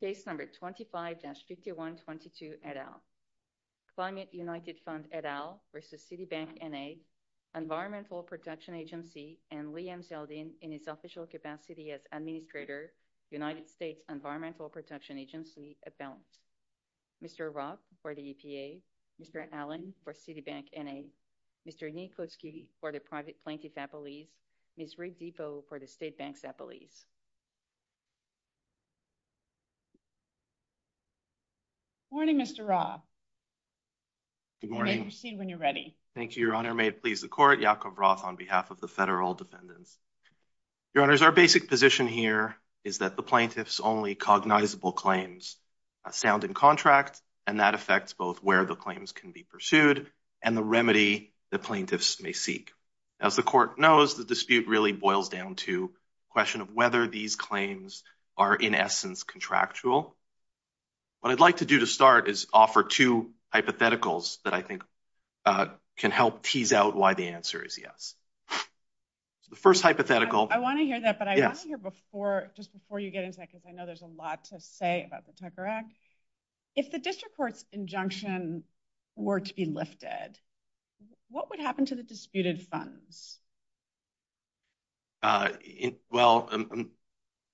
Case number 25-5122 et al. Climate United Fund et al versus Citibank, N.A., Environmental Protection Agency, and Liam Zeldin in his official capacity as Administrator, United States Environmental Protection Agency, et al. Mr. Roth for the EPA, Mr. Allen for Citibank, N.A., Mr. Nikoski for the private plaintiff's appellees, Ms. Riddipo for the state bank's appellees. Good morning, Mr. Roth. Good morning. You may proceed when you're ready. Thank you, Your Honor. May it please the Court, Jacob Roth on behalf of the Federal Defendant. Your Honors, our basic position here is that the plaintiff's only cognizable claims are found in contract, and that affects both where the claims can be pursued and the remedy the plaintiffs may seek. As the Court knows, the dispute really boils down to the question of whether these claims are in essence contractual. What I'd like to do to start is offer two hypotheticals that I think can help tease out why the answer is yes. The first hypothetical... I want to hear that, but I want to hear before, just before you get into that, because I know there's a lot to say about the Tucker Act. If the district court's injunction were to be lifted, what would happen to the disputed funds? Well,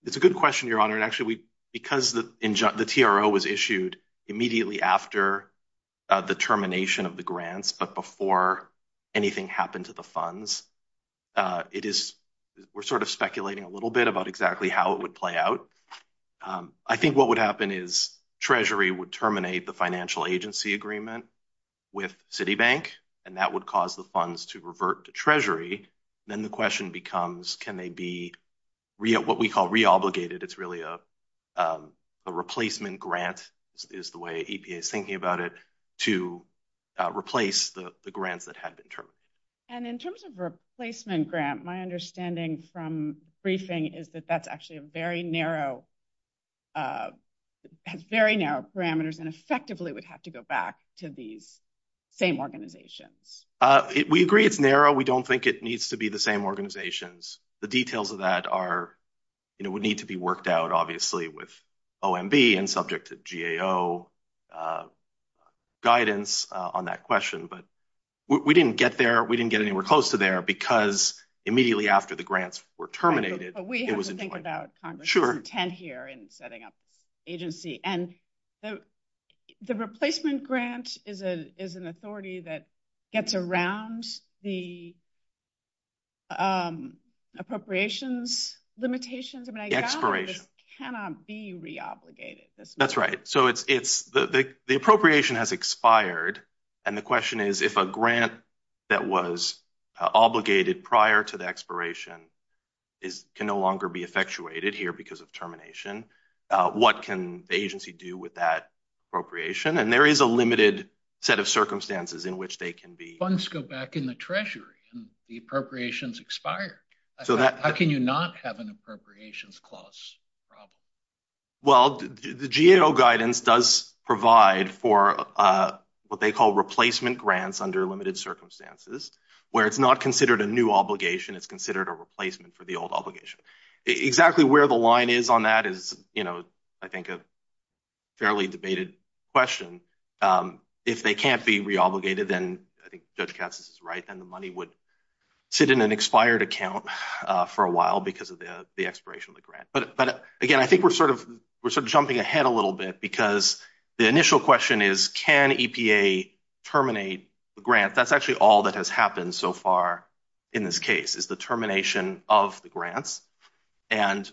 it's a good question, Your Honor. Actually, because the TRO was issued immediately after the termination of the grants, but before anything happened to the funds, we're sort of speculating a little bit about exactly how it would play out. I think what would happen is Treasury would terminate the financial agency agreement with Citibank, and that would cause the funds to revert to Treasury, and then the question becomes, can they be what we call re-obligated? It's really a replacement grant, is the way EPA is thinking about it, to replace the grant that had been terminated. And in terms of replacement grant, my understanding from briefing is that that's actually a very narrow... has very narrow parameters, and effectively would have to go back to the same organization. We agree it's narrow. We don't think it needs to be the same organizations. The details of that are... would need to be worked out, obviously, with OMB and subject to GAO guidance on that question. But we didn't get there. We didn't get anywhere close to there because immediately after the grants were terminated... But we have to think about Congress's intent here in setting up agency. And the replacement grant is an authority that gets around the appropriations limitations. I mean, I doubt it cannot be re-obligated. That's right. So the appropriation has expired, and the question is, if a grant that was obligated prior to the expiration can no longer be effectuated here because of termination, what can the agency do with that appropriation? And there is a limited set of circumstances in which they can be... Funds go back in the treasury, and the appropriations expire. How can you not have an appropriations clause problem? Well, the GAO guidance does provide for what they call replacement grants under limited circumstances, where it's not considered a new obligation. It's considered a replacement for the old obligation. Exactly where the line is on that is, you know, I think a fairly debated question. If they can't be re-obligated, and I think Judge Kapsitz is right, then the money would sit in an expired account for a while because of the expiration of the grant. But again, I think we're sort of jumping ahead a little bit because the initial question is, can EPA terminate the grant? That's actually all that has happened so far in this case is the termination of the grant. Can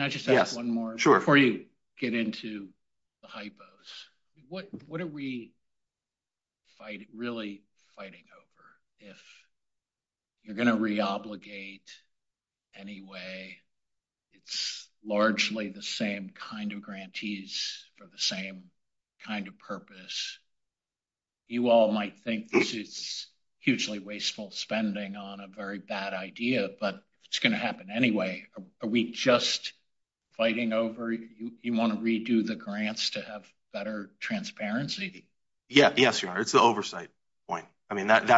I just ask one more before you get into the hypos? What are we really fighting over? If you're going to re-obligate anyway, it's largely the same kind of grantees for the same kind of purpose. You all might think this is hugely wasteful spending on a very bad idea, but it's going to happen anyway. Are we just fighting over you want to redo the grants to have better transparency? Yes, it's the oversight point. I mean, that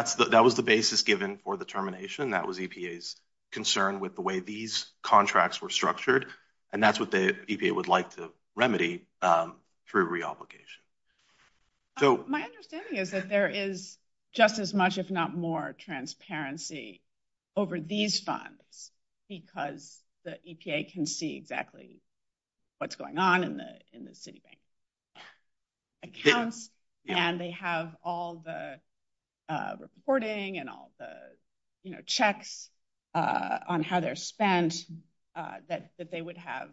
was the basis given for the termination. That was EPA's concern with the way these contracts were structured, and that's what the EPA would like to remedy for re-obligation. My understanding is that there is just as much, if not more, transparency over these funds because the EPA can see exactly what's going on in the city bank accounts, and they have all the reporting and all the checks on how they're spent that they would have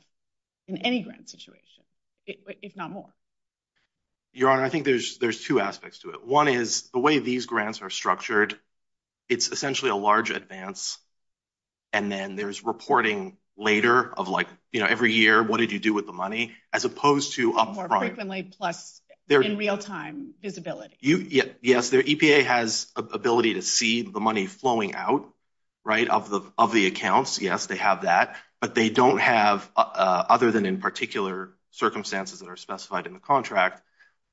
in any grant situation, if not more. Your Honor, I think there's two aspects to it. One is the way these grants are structured, it's essentially a large advance, and then there's reporting later of like, you know, every year what did you do with the money as opposed to up front. More personally plus in real time visibility. Yes, the EPA has ability to see the money flowing out, right, of the accounts. Yes, they have that, but they don't have, other than in particular circumstances that are specified in the contract,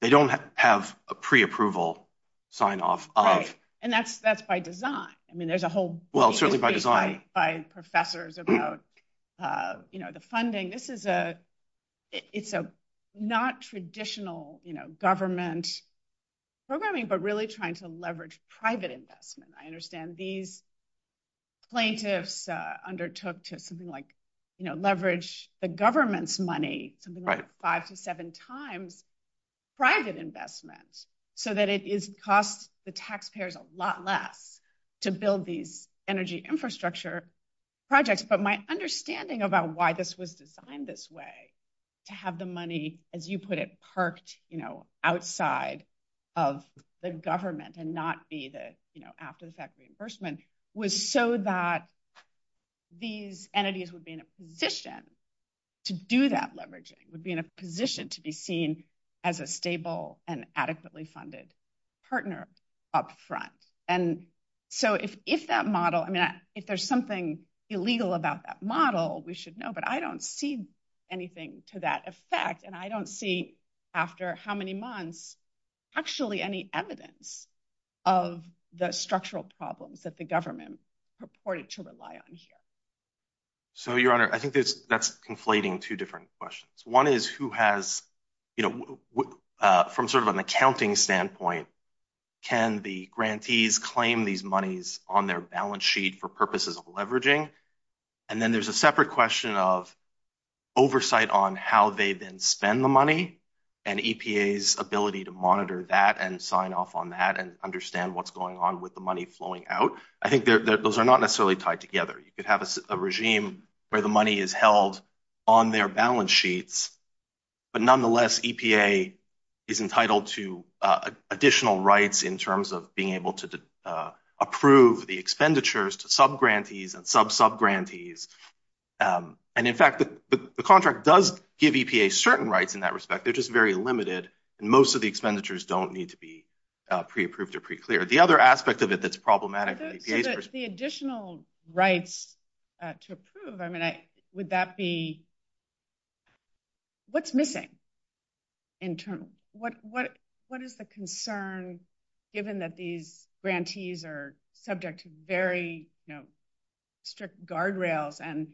they don't have a pre-approval sign off. Right, and that's by design. I mean, there's a whole... Well, certainly by design. ...by professors about, you know, the funding. This is a, it's a not traditional, you know, government programming, but really trying to leverage private investment. I understand these plaintiffs undertook to something like, you know, leverage the government's money, something like five to seven times private investment so that it costs the taxpayers a lot less to build these energy infrastructure projects. But my understanding about why this was designed this way to have the money, as you put it, parked, you know, outside of the government and not be the, you know, after the fact reimbursement was so that these entities would be in a position then to do that leveraging, would be in a position to be seen as a stable and adequately funded partner up front. And so if that model, I mean, if there's something illegal about that model, we should know, but I don't see anything to that effect. And I don't see after how many months, actually any evidence of the structural problems that the government purported to rely on here. So, Your Honor, I think that's conflating two different questions. One is who has, you know, from sort of an accounting standpoint, can the grantees claim these monies on their balance sheet for purposes of leveraging? And then there's a separate question of oversight on how they then spend the money and EPA's ability to monitor that and sign off on that and understand what's going on with the money flowing out. I think those are not necessarily tied together. You could have a regime where the money is held on their balance sheets, but nonetheless, EPA is entitled to additional rights in terms of being able to approve the expenditures to subgrantees and sub-subgrantees. And in fact, the contract does give EPA certain rights in that respect. They're just very limited. And most of the expenditures don't need to be pre-approved or pre-cleared. The other aspect of it that's problematic... The additional rights to approve, I mean, would that be... What's missing internally? What is the concern, given that these grantees are subject to very strict guardrails and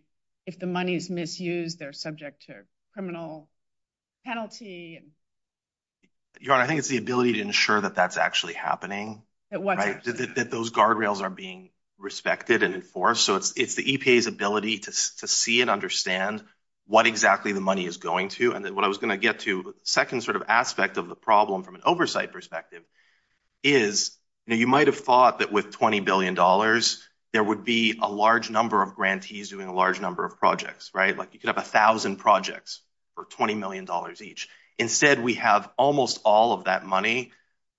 if the money is misused, they're subject to criminal penalty? I think it's the ability to ensure that that's actually happening. That those guardrails are being respected and enforced. So it's the EPA's ability to see and understand what exactly the money is going to. And then what I was going to get to, the second sort of aspect of the problem from an oversight perspective, is you might have thought that with $20 billion, there would be a large number of grantees doing a large number of projects, right? Like you could have 1,000 projects for $20 million each. Instead, we have almost all of that money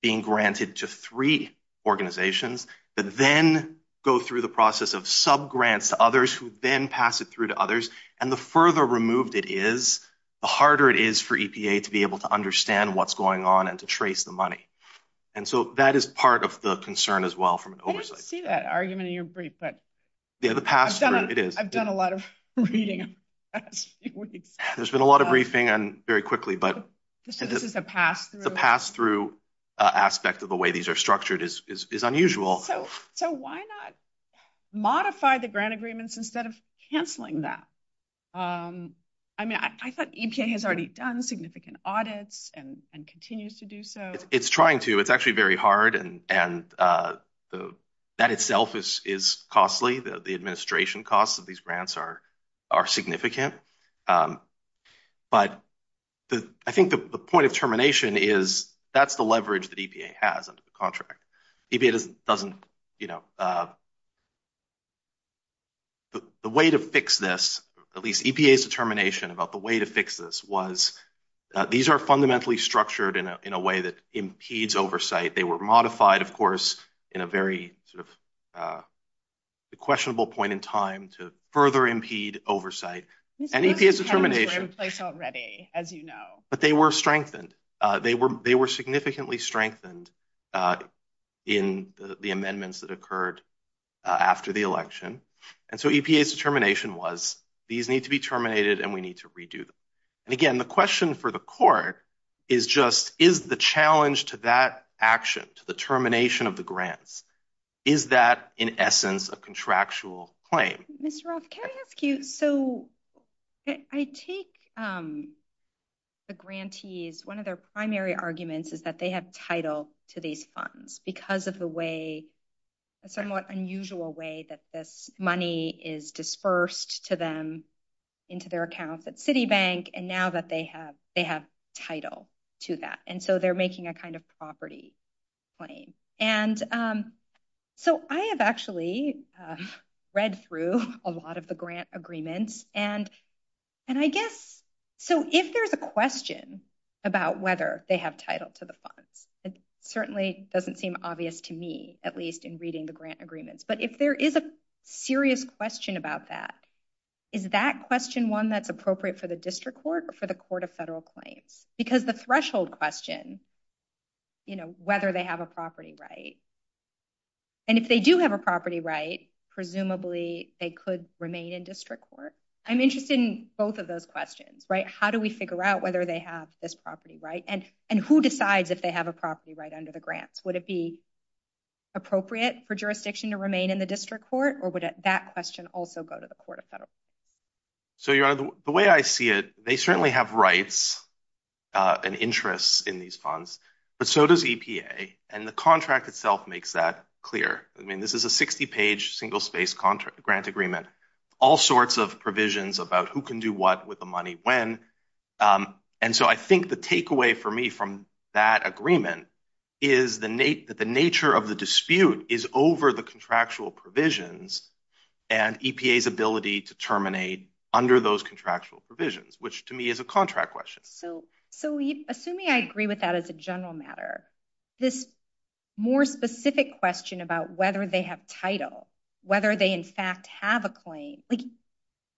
being granted to three organizations that then go through the process of sub-grants to others who then pass it through to others. And the further removed it is, the harder it is for EPA to be able to understand what's going on and to trace the money. And so that is part of the concern as well from an oversight. I didn't see that argument in your brief, but... Yeah, the pass-through, it is. I've done a lot of reading. There's been a lot of briefing, and very quickly, but... So this is a pass-through? The pass-through aspect of the way these are structured is unusual. So why not modify the grant agreements instead of canceling that? I mean, I thought EPA has already done significant audits and continues to do so. It's trying to. It's actually very hard, and that itself is costly. The administration costs of these grants are significant. But I think the point of termination is that's the leverage that EPA has under the contract. EPA doesn't, you know... The way to fix this, at least EPA's determination about the way to fix this was these are fundamentally structured in a way that impedes oversight. They were modified, of course, in a very questionable point in time to further impede oversight. And EPA's determination... They were in place already, as you know. But they were strengthened. They were significantly strengthened in the amendments that occurred after the election. And so EPA's determination was these need to be terminated, and we need to redo them. And again, the question for the court is just is the challenge to that action, to the termination of the grants, is that, in essence, a contractual claim? Mr. Roth, can I ask you... So I take the grantees... One of their primary arguments is that they have title to these funds because of the way, a somewhat unusual way, that this money is dispersed to them into their accounts at Citibank, and now that they have title to that. And so they're making a kind of property claim. And so I have actually read through a lot of the grant agreements, and I guess... So if there's a question about whether they have title to the funds, it certainly doesn't seem obvious to me, at least in reading the grant agreements. But if there is a serious question about that, is that question one that's appropriate for the district court or for the court of federal claims? Because the threshold question, you know, whether they have a property right. And if they do have a property right, presumably they could remain in district court. I'm interested in both of those questions, right? How do we figure out whether they have this property right? And who decides if they have a property right under the grants? Would it be appropriate for jurisdiction to remain in the district court, or would that question also go to the court of federal claims? So, Your Honor, the way I see it, they certainly have rights and interests in these funds, but so does EPA, and the contract itself makes that clear. I mean, this is a 60-page single-space grant agreement. All sorts of provisions about who can do what with the money when. And so I think the takeaway for me from that agreement is that the nature of the dispute is over the contractual provisions and EPA's ability to terminate under those contractual provisions, which to me is a contract question. So, assuming I agree with that as a general matter, this more specific question about whether they have title, whether they in fact have a claim, like,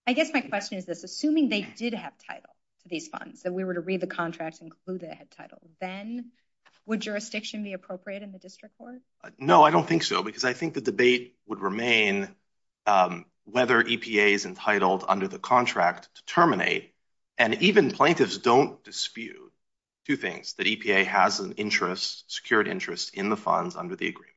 I guess my question is this. Assuming they did have title, these funds, that we were to read the contract and conclude it had title, then would jurisdiction be appropriate in the district court? No, I don't think so, because I think the debate would remain whether EPA is entitled under the contract to terminate, and even plaintiffs don't dispute, two things, that EPA has an interest, secured interest, in the funds under the agreement,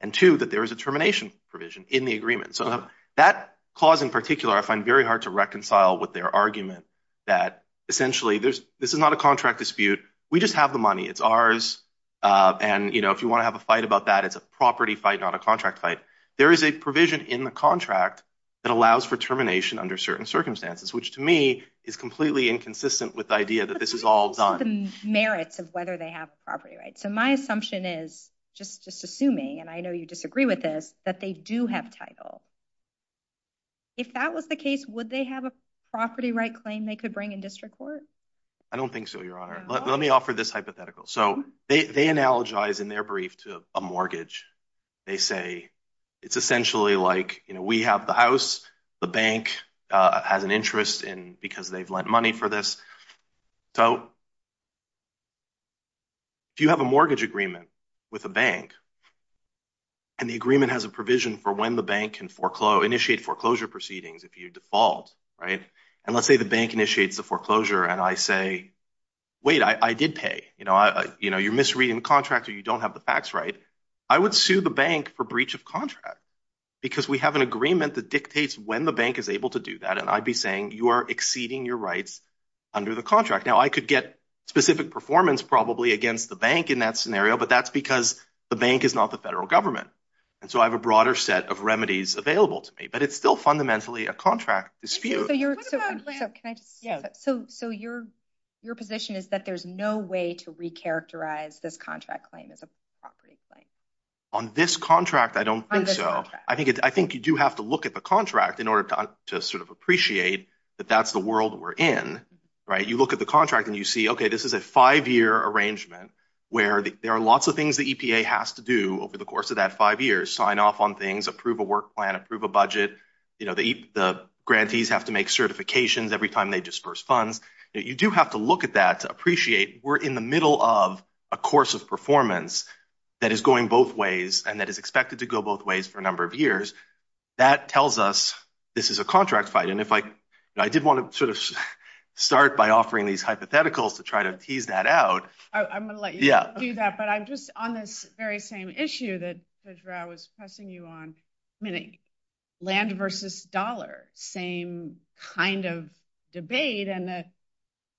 and two, that there is a termination provision in the agreement. So that clause in particular, I find very hard to reconcile with their argument that essentially this is not a contract dispute. We just have the money. It's ours, and if you want to have a fight about that, it's a property fight, not a contract fight. There is a provision in the contract that allows for termination under certain circumstances, which to me is completely inconsistent with the idea that this is all done. The merits of whether they have property rights. So my assumption is, just assuming, and I know you disagree with this, that they do have title. If that was the case, would they have a property right claim they could bring in district court? I don't think so, Your Honor. Let me offer this hypothetical. So they analogize in their brief to a mortgage. They say it's essentially like we have the house, the bank has an interest because they've lent money for this. So do you have a mortgage agreement with a bank? And the agreement has a provision for when the bank can initiate foreclosure proceedings if you default, right? And let's say the bank initiates the foreclosure and I say, wait, I did pay. You're misreading the contract or you don't have the facts right. I would sue the bank for breach of contract because we have an agreement that dictates when the bank is able to do that. And I'd be saying, you are exceeding your rights under the contract. Now I could get specific performance probably against the bank in that scenario, but that's because the bank is not the federal government. And so I have a broader set of remedies available to me, but it's still fundamentally a contract dispute. So your position is that there's no way to recharacterize this contract claim as a property claim? On this contract, I don't think so. I think you do have to look at the contract in order to sort of appreciate that that's the world we're in, right? You look at the contract and you see, okay, this is a five-year arrangement where there are lots of things the EPA has to do over the course of that five years, sign off on things, approve a work plan, approve a budget. The grantees have to make certifications every time they disburse funds. You do have to look at that to appreciate we're in the middle of a course of performance that is going both ways and that is expected to go both ways for a number of years. That tells us this is a contract fight. And I did want to sort of start by offering these hypotheticals to try to tease that out. I'm going to let you do that, but I'm just on this very same issue that, Cedra, I was pressing you on, land versus dollar, same kind of debate.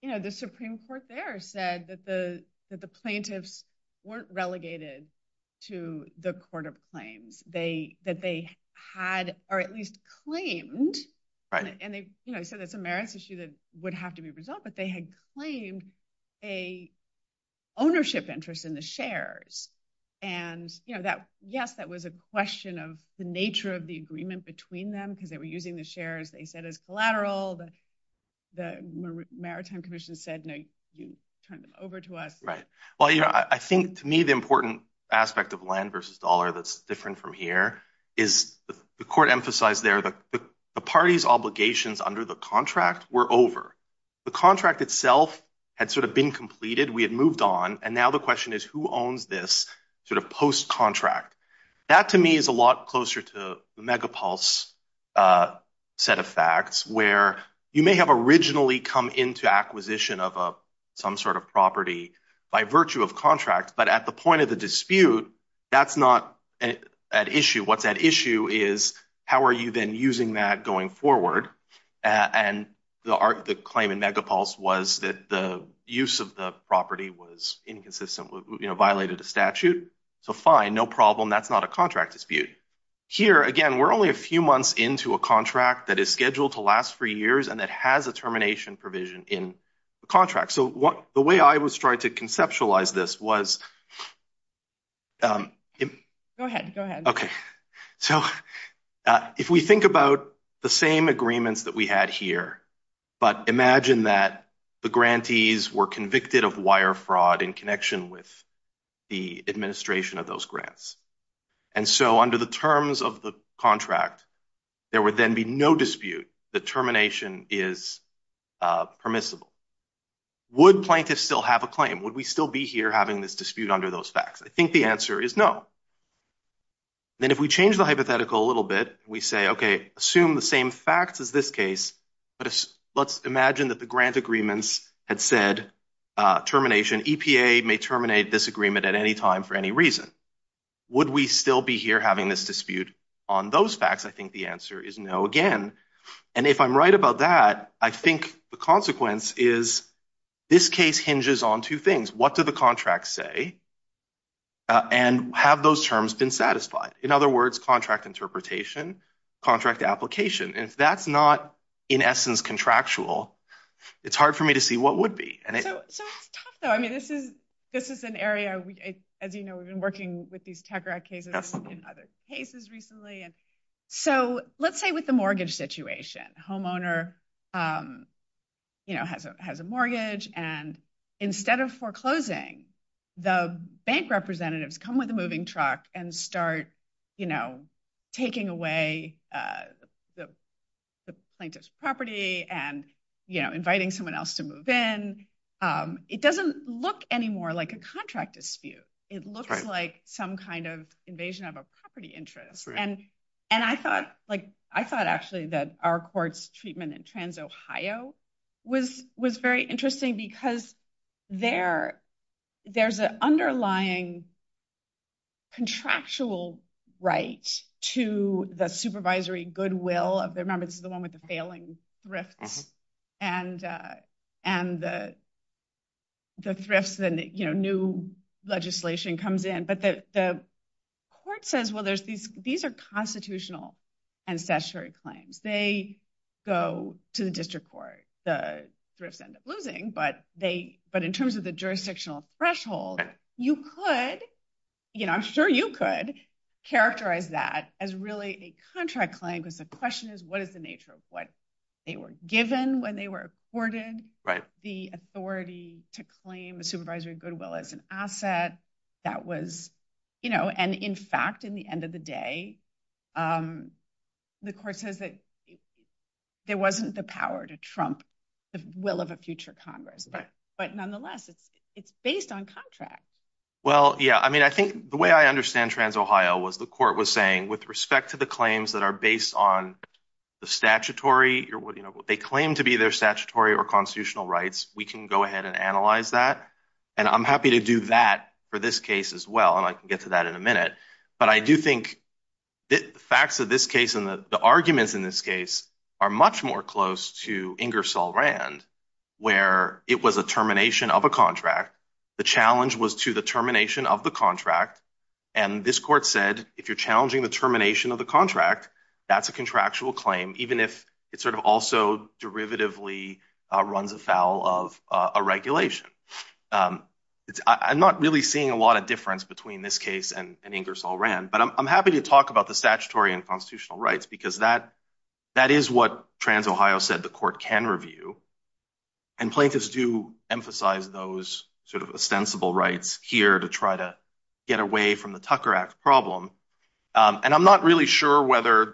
The Supreme Court there said that the plaintiffs weren't relegated to the court of claims, that they had, or at least claimed, and I said that's a merits issue that would have to be resolved, but they had claimed an ownership interest in the shares. And yes, that was a question of the nature of the agreement between them because they were using the shares, they said it's collateral, the Maritime Commission said, no, you turn them over to us. Right. Well, you know, I think to me the important aspect of land versus dollar that's different from here is the court emphasized there the party's obligations under the contract were over. The contract itself had sort of been completed, we had moved on, and now the question is who owns this sort of post-contract? That to me is a lot closer to the Megapulse set of facts where you may have originally come into acquisition of some sort of property by virtue of contract, but at the point of the dispute, that's not an issue. What's at issue is how are you then using that going forward? And the claim in Megapulse was that the use of the property was inconsistent, violated the statute, so fine, no problem, that's not a contract dispute. Here, again, we're only a few months into a contract that is scheduled to last three years and that has a termination provision in the contract. So the way I was trying to conceptualize this was... Go ahead, go ahead. Okay. So if we think about the same agreements that we had here, but imagine that the grantees were convicted of wire fraud in connection with the administration of those grants. And so under the terms of the contract, there would then be no dispute that termination is permissible. Would Plankist still have a claim? Would we still be here having this dispute under those facts? I think the answer is no. Then if we change the hypothetical a little bit, we say, okay, assume the same facts as this case, but let's imagine that the grant agreements had said termination, EPA may terminate this agreement at any time for any reason. Would we still be here having this dispute on those facts? I think the answer is no again. And if I'm right about that, I think the consequence is this case hinges on two things. What do the contracts say? And have those terms been satisfied? In other words, contract interpretation, contract application. If that's not, in essence, contractual, it's hard for me to see what would be. I mean, this is an area, as you know, we've been working with these CADRAC cases and other cases recently. And so let's say with the mortgage situation, homeowner has a mortgage. And instead of foreclosing, the bank representatives come with a moving truck and start taking away the Plankist property and inviting someone else to move in. It doesn't look anymore like a contract dispute. It looks like some kind of invasion of a property interest. And I thought actually that our court's treatment in TransOhio was very interesting because there's an underlying contractual right to the supervisory goodwill of the members of the board of the board of trustees. this is the one with the failing thrift and the thrift and new legislation comes in. But the court says, well, these are constitutional ancestry claims. They go to the district court. The thrifts end up losing. But in terms of the jurisdictional threshold, I'm sure you could characterize that as really a contract claim because the question is, what is the nature of what they were given when they were afforded the authority to claim the supervisory goodwill as an asset? And in fact, in the end of the day, the court says that there wasn't the power to trump the will of a future Congress. But nonetheless, it's based on contract. Well, yeah. I mean, I think the way I understand TransOhio was the court was saying with respect to the claims that are based on the statutory, they claim to be their statutory or constitutional rights. We can go ahead and analyze that. And I'm happy to do that for this case as well. And I can get to that in a minute. But I do think the facts of this case and the arguments in this case are much more close to Ingersoll Rand, where it was a termination of a contract. The challenge was to the termination of the contract. And this court said, if you're challenging the termination of the contract, that's a contractual claim, even if it sort of also derivatively runs afoul of a regulation. I'm not really seeing a lot of difference between this case and Ingersoll Rand, but I'm happy to talk about the statutory and constitutional rights because that is what TransOhio said the court can review. And plaintiffs do emphasize those sort of ostensible rights here to try to get away from the Tucker Act problem. And I'm not really sure whether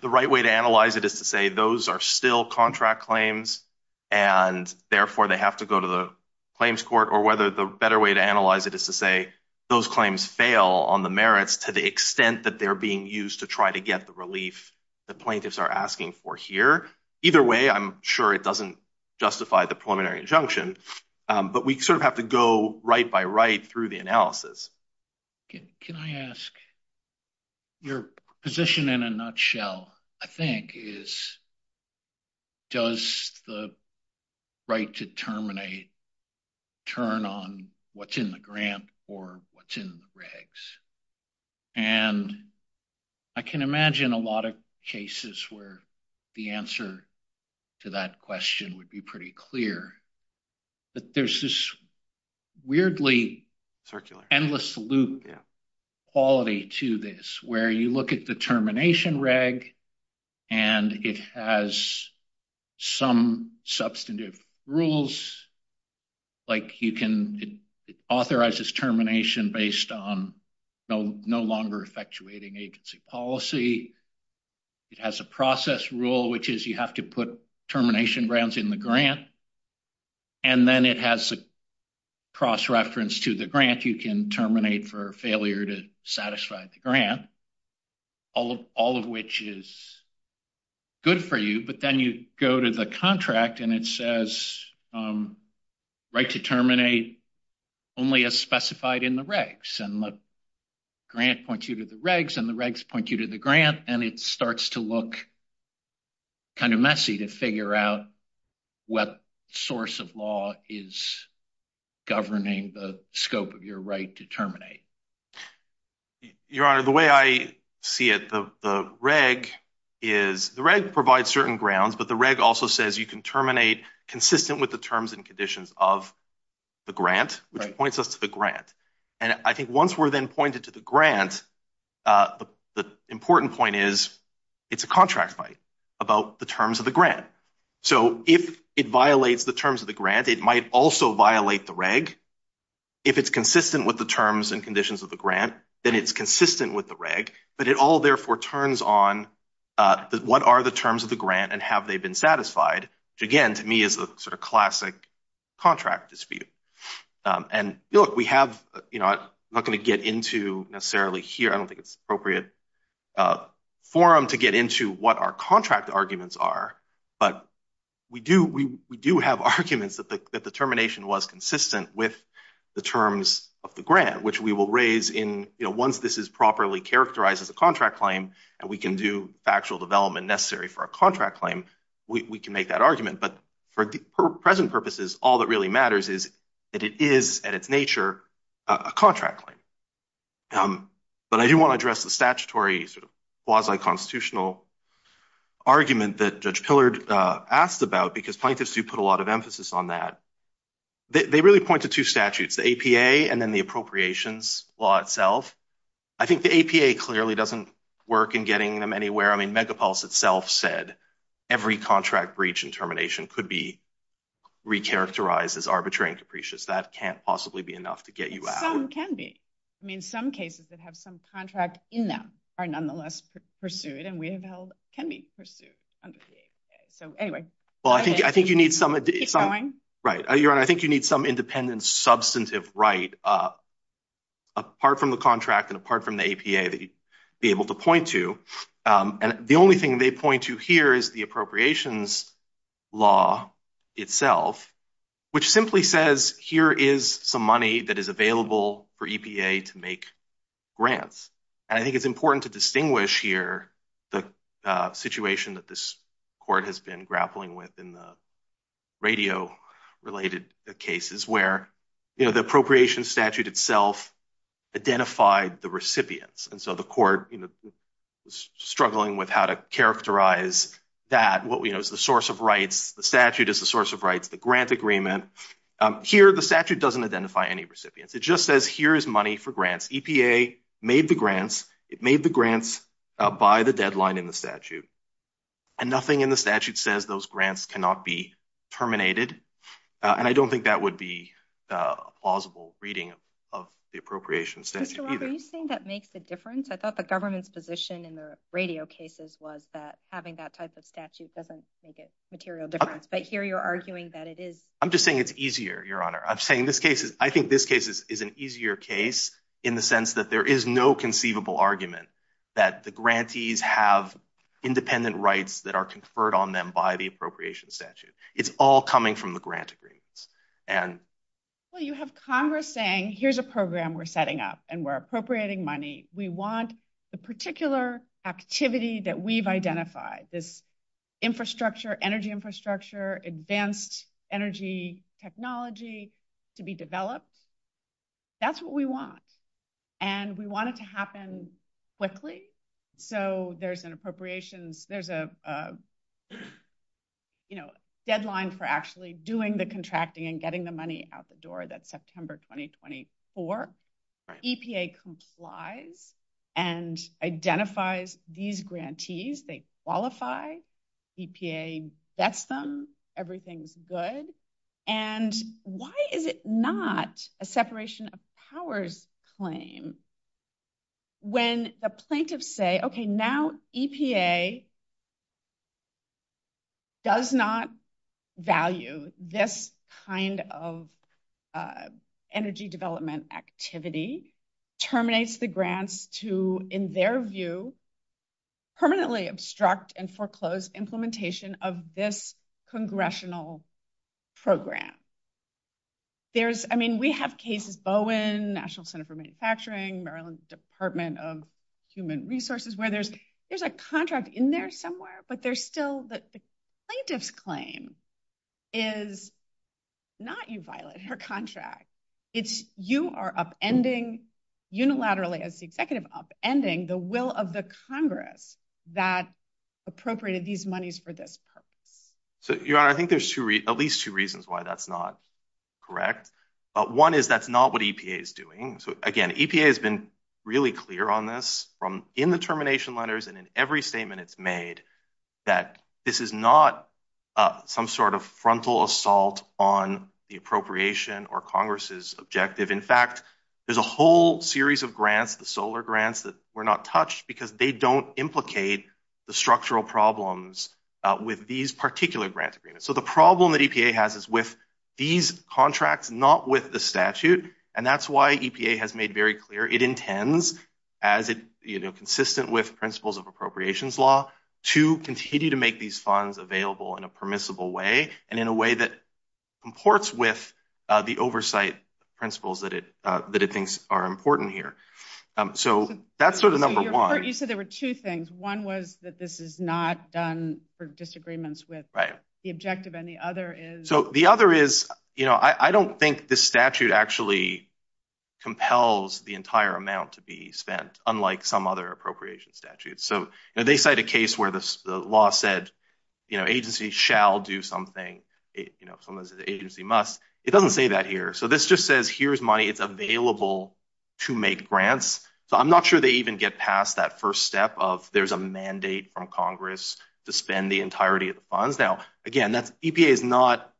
the right way to analyze it is to say those are still contract claims and therefore they have to go to the claims court or whether the better way to analyze it is to say those claims fail on the merits to the extent that they're being used to try to get the relief that plaintiffs are asking for here. Either way, I'm sure it doesn't justify the preliminary injunction, but we sort of have to go right by right through the analysis. Can I ask, your position in a nutshell, I think, is does the right to terminate turn on what's in the grant or what's in the regs? And I can imagine a lot of cases where the answer to that question would be pretty clear. But there's this weirdly endless loop quality to this where you look at the termination reg and it has some substantive rules, like you can authorize this termination based on no longer effectuating agency policy. It has a process rule, which is you have to put termination grounds in the grant. And then it has a cross-reference to the grant. You can terminate for failure to satisfy the grant, all of which is good for you. But then you go to the contract and it says right to terminate only as specified in the regs. And the grant points you to the regs and the regs point you to the grant, and it starts to look kind of messy to figure out what source of law is governing the scope of your right to terminate. Your Honor, the way I see it, the reg provides certain grounds, but the reg also says you can terminate consistent with the terms and conditions of the grant, which points us to the grant. And I think once we're then pointed to the grant, the important point is it's a contract fight about the terms of the grant. So if it violates the terms of the grant, it might also violate the reg. If it's consistent with the terms and conditions of the grant, then it's consistent with the reg, but it all therefore turns on what are the terms of the grant and have they been satisfied, which again to me is a sort of classic contract dispute. And look, we have, you know, I'm not going to get into necessarily here. I don't think it's appropriate forum to get into what our contract arguments are, but we do have arguments that the termination was consistent with the terms of the grant, which we will raise in, you know, once this is properly characterized as a contract claim and we can do factual development necessary for a contract claim, we can make that argument. But for present purposes, all that really matters is that it is at its nature a contract claim. But I do want to address the statutory quasi-constitutional argument that Judge Pillard asked about because plaintiffs do put a lot of emphasis on that. They really point to two statutes, the APA and then the appropriations law itself. I think the APA clearly doesn't work in getting them anywhere. I mean, Megapulse itself said every contract breach and termination could be recharacterized as arbitrary and capricious. That can't possibly be enough to get you out. Some can be. I mean, some cases that have some contract in them are nonetheless pursued and we know can be pursued under the APA. So, anyway. Well, I think you need some... Keep going. Right. Your Honor, I think you need some independent substantive right apart from the contract and apart from the APA that you'd be able to point to. And the only thing they point to here is the appropriations law itself, which simply says here is some money that is available for EPA to make grants. I think it's important to distinguish here the situation that this court has been grappling with in the radio-related cases where the appropriations statute itself identified the recipients. And so the court is struggling with how to characterize that. What we know is the source of rights. The statute is the source of rights. The grant agreement. Here, the statute doesn't identify any recipients. It just says here is money for grants. EPA made the grants. It made the grants by the deadline in the statute. And nothing in the statute says those grants cannot be terminated. And I don't think that would be a plausible reading of the appropriations statute either. Mr. Walker, are you saying that makes a difference? I thought the government's position in the radio cases was that having that type of statute doesn't make a material difference. But here you're arguing that it is. I'm just saying it's easier, Your Honor. I think this case is an easier case in the sense that there is no conceivable argument that the grantees have independent rights that are conferred on them by the appropriations statute. It's all coming from the grant agreements. Well, you have Congress saying, here's a program we're setting up and we're appropriating money. We want the particular activity that we've identified, this infrastructure, energy infrastructure, advanced energy technology to be developed. That's what we want. And we want it to happen quickly. So there's an appropriations, there's a deadline for actually doing the contracting and getting the money out the door. That's September, 2024. EPA complies and identifies these grantees. They qualify. EPA gets them. Everything's good. And why is it not a separation of powers claim when the plaintiffs say, okay, now EPA does not value this kind of energy development activity, terminates the grants to, in their view, permanently obstruct and foreclose implementation of this congressional program. I mean, we have cases, Bowen National Center for Manufacturing, Maryland Department of Human Resources, where there's a contract in there somewhere, but there's still the plaintiff's claim is not you violate her contract. It's you are upending unilaterally as the executive upending the will of the Congress that appropriated these monies for this purpose. So I think there's at least two reasons why that's not correct. But one is that's not what EPA is doing. So again, EPA has been really clear on this from in the termination letters and in every statement it's made that this is not some sort of frontal assault on the appropriation or Congress's objective. In fact, there's a whole series of grants, the solar grants, that were not touched because they don't implicate the structural problems with these particular grant agreements. So the problem that EPA has is with these contracts, not with the statute, and that's why EPA has made very clear it intends, as consistent with principles of appropriations law, to continue to make these funds available in a permissible way and in a way that comports with the oversight principles that it thinks are important here. So that's sort of number one. You said there were two things. One was that this is not done for disagreements with the objective, and the other is... So the other is, you know, I don't think this statute actually compels the entire amount to be spent, unlike some other appropriation statutes. So they cite a case where the law said, you know, agency shall do something. You know, sometimes it's agency must. It doesn't say that here. So this just says here's money. It's available to make grants. So I'm not sure they even get past that first step of there's a mandate from Congress to spend the entirety of the funds. Now, again, EPA is not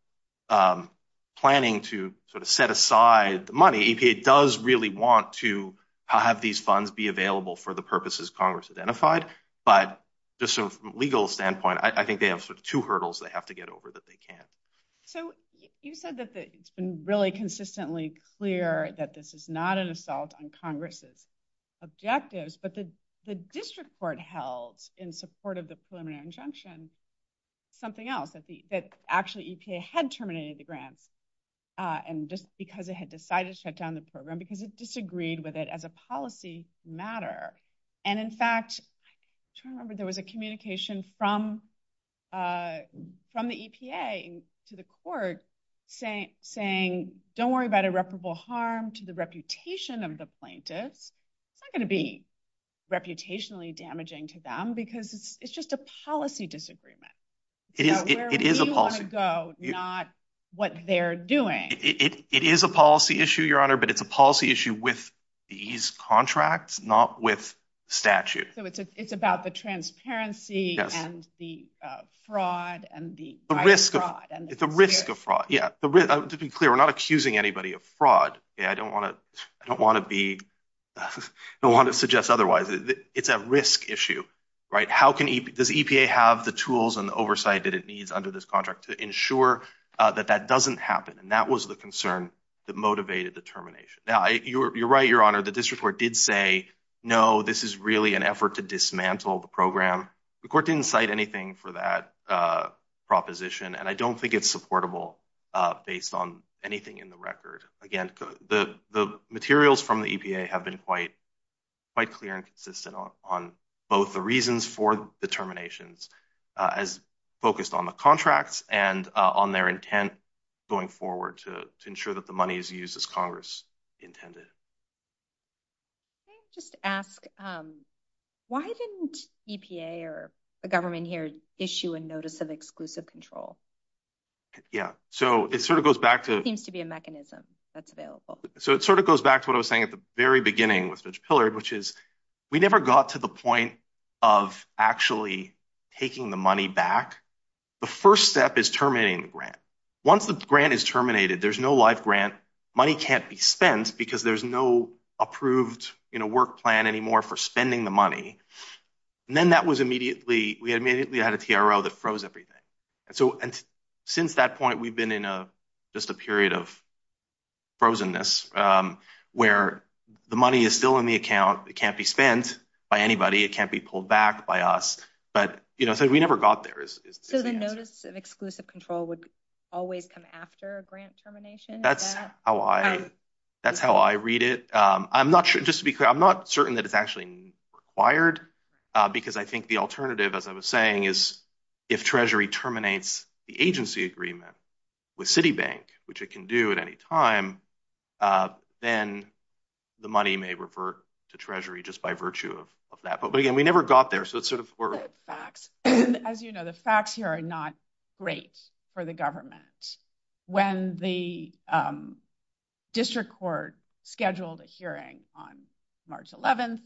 planning to sort of set aside the money. EPA does really want to have these funds be available for the purposes Congress identified, but just from a legal standpoint, I think they have sort of two hurdles they have to get over that they can't. So you said that it's been really consistently clear that this is not an assault on Congress's objectives, but the district court held, in support of the preliminary injunction, something else, that actually EPA had terminated the grant, and just because it had decided to shut down the program because it disagreed with it as a policy matter. And in fact, I'm trying to remember, there was a communication from the EPA to the court saying, don't worry about irreparable harm to the reputation of the plaintiff. It's not gonna be reputationally damaging to them because it's just a policy disagreement. It is a policy. Not what they're doing. It is a policy issue, Your Honor, but it's a policy issue with these contracts, not with statute. So it's about the transparency and the fraud and the- It's a risk of fraud, yeah. To be clear, we're not accusing anybody of fraud. I don't wanna suggest otherwise. It's a risk issue, right? Does EPA have the tools and the oversight that it needs under this contract to ensure that that doesn't happen? And that was the concern that motivated the termination. Now, you're right, Your Honor, the district court did say, no, this is really an effort to dismantle the program. The court didn't cite anything for that proposition, and I don't think it's supportable based on anything in the record. Again, the materials from the EPA have been quite clear and consistent on both the reasons for the terminations as focused on the contract and on their intent going forward to ensure that the money is used as Congress intended. Can I just ask, why didn't EPA or the government here issue a notice of exclusive control? Yeah, so it sort of goes back to- There seems to be a mechanism that's available. So it sort of goes back to what I was saying at the very beginning with Judge Pillard, which is we never got to the point of actually taking the money back. The first step is terminating the grant. Once the grant is terminated, there's no live grant. Money can't be spent because there's no approved work plan anymore for spending the money. And then that was immediately- We immediately had a TRO that froze everything. And so since that point, we've been in just a period of frozenness where the money is still in the account. It can't be spent by anybody. It can't be pulled back by us. But, you know, so we never got there. So the notice of exclusive control would always come after a grant termination? That's how I read it. I'm not sure. Just to be clear, I'm not certain that it's actually required because I think the alternative, as I was saying, is if Treasury terminates the agency agreement with Citibank, which it can do at any time, then the money may revert to Treasury just by virtue of that. But, again, we never got there. So it's sort of- As you know, the facts here are not great for the government. When the district court scheduled a hearing on March 11th,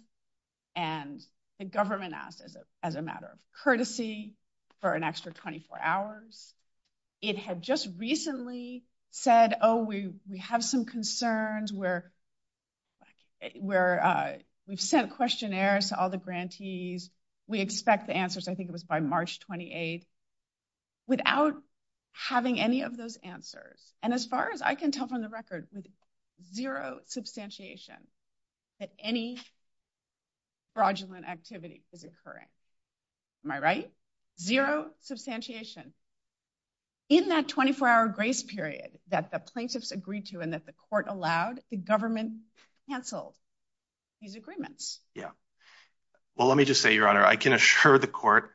and the government asked as a matter of courtesy for an extra 24 hours, it had just recently said, oh, we have some concerns. We've sent questionnaires to all the grantees. We expect the answers, I think it was by March 28th. without having any of those answers. And as far as I can tell from the record, zero substantiation that any fraudulent activity is occurring. Am I right? Zero substantiation. In that 24-hour grace period that the plaintiffs agreed to and that the court allowed, the government canceled these agreements. Yeah. Well, let me just say, Your Honor, I can assure the court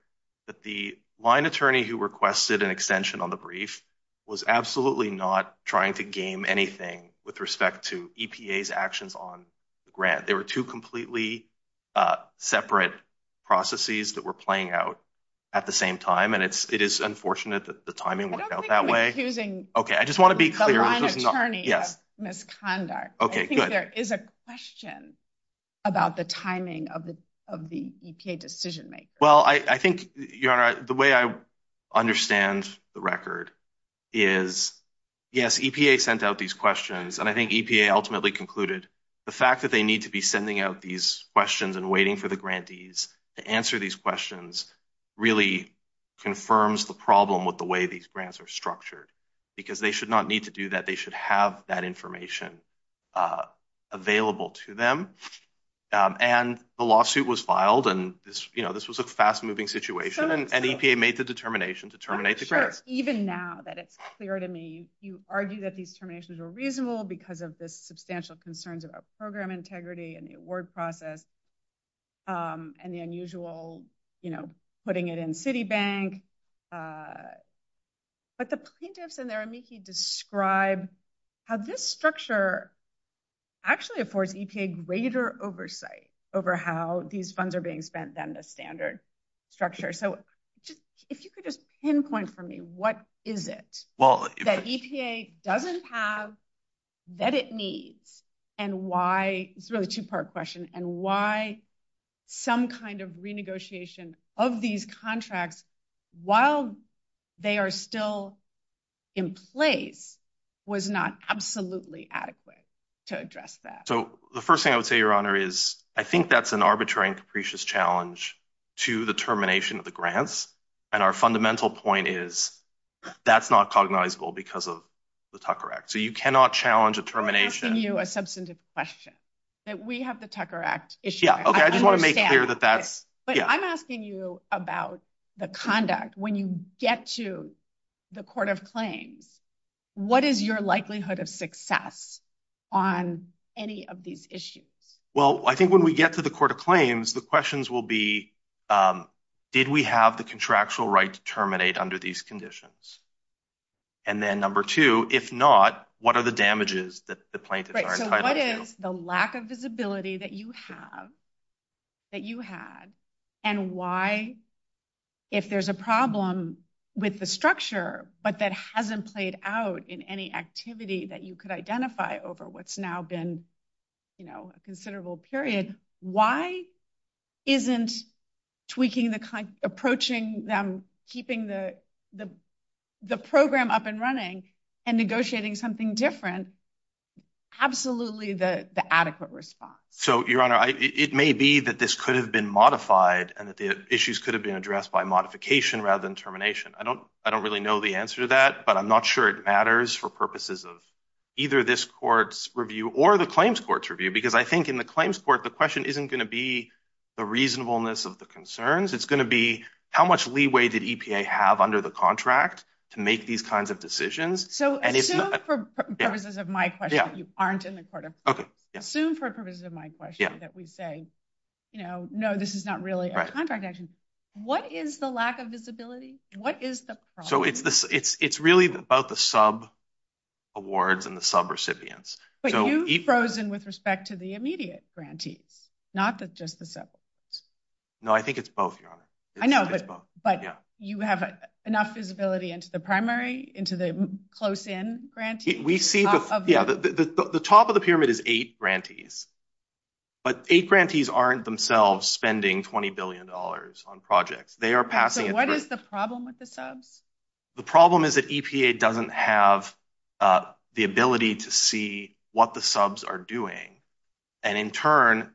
that the line attorney who requested an extension on the brief was absolutely not trying to game anything with respect to EPA's actions on the grant. They were two completely separate processes that were playing out at the same time. And it is unfortunate that the timing went out that way. I don't think we're accusing- Okay, I just want to be clear. The line attorney of misconduct. Okay, good. I think there is a question about the timing of the EPA decision-maker. Well, I think, Your Honor, the way I understand the record is, yes, EPA sent out these questions, and I think EPA ultimately concluded the fact that they need to be sending out these questions and waiting for the grantees to answer these questions really confirms the problem with the way these grants are structured because they should not need to do that. They should have that information available to them. And the lawsuit was filed, and this was a fast-moving situation, and EPA made the determination to terminate the grant. Even now that it's clear to me, you argue that these terminations were reasonable because of the substantial concerns about program integrity and the award process and the unusual putting it in Citibank. But the plaintiffs and their amici describe how this structure actually affords EPA greater oversight over how these funds are being spent than the standard structure. So if you could just pinpoint for me, what is it that EPA doesn't have that it needs and why... It's really a two-part question and why some kind of renegotiation of these contracts while they are still in place was not absolutely adequate to address that. So the first thing I would say, Your Honor, is I think that's an arbitrary and capricious challenge to the termination of the grants, and our fundamental point is that's not cognizable because of the Tucker Act. So you cannot challenge a termination... Let me ask you a substantive question. We have the Tucker Act issue. Okay, I just want to make clear that that's... But I'm asking you about the conduct. When you get to the court of claims, what is your likelihood of success on any of these issues? Well, I think when we get to the court of claims, the questions will be, did we have the contractual right to terminate under these conditions? And then number two, if not, what are the damages that the plaintiffs are entitled to? So what is the lack of visibility that you have and why, if there's a problem with the structure but that hasn't played out in any activity that you could identify over what's now been, you know, a considerable period, why isn't tweaking the... approaching them, keeping the program up and running and negotiating something different absolutely the adequate response? So, Your Honor, it may be that this could have been modified and that the issues could have been addressed by modification rather than termination. I don't really know the answer to that, but I'm not sure it matters for purposes of either this court's review or the claims court's review because I think in the claims court, the question isn't going to be the reasonableness of the concerns. It's going to be how much leeway did EPA have under the contract to make these kinds of decisions? So assume for purposes of my question, you aren't in the court of... Assume for purposes of my question that we say, you know, no, this is not really our contract action. What is the lack of visibility? What is the problem? So it's really about the sub-awards and the sub-recipients. But you've frozen with respect to the immediate grantees, not just the sub-awards. No, I think it's both, Your Honor. I know, but you have enough visibility into the primary, into the close-in grantees? We see the... Yeah, the top of the pyramid is eight grantees. But eight grantees aren't themselves spending $20 billion on projects. They are passing... So what is the problem with the subs? The problem is that EPA doesn't have the ability to see what the subs are doing. And in turn,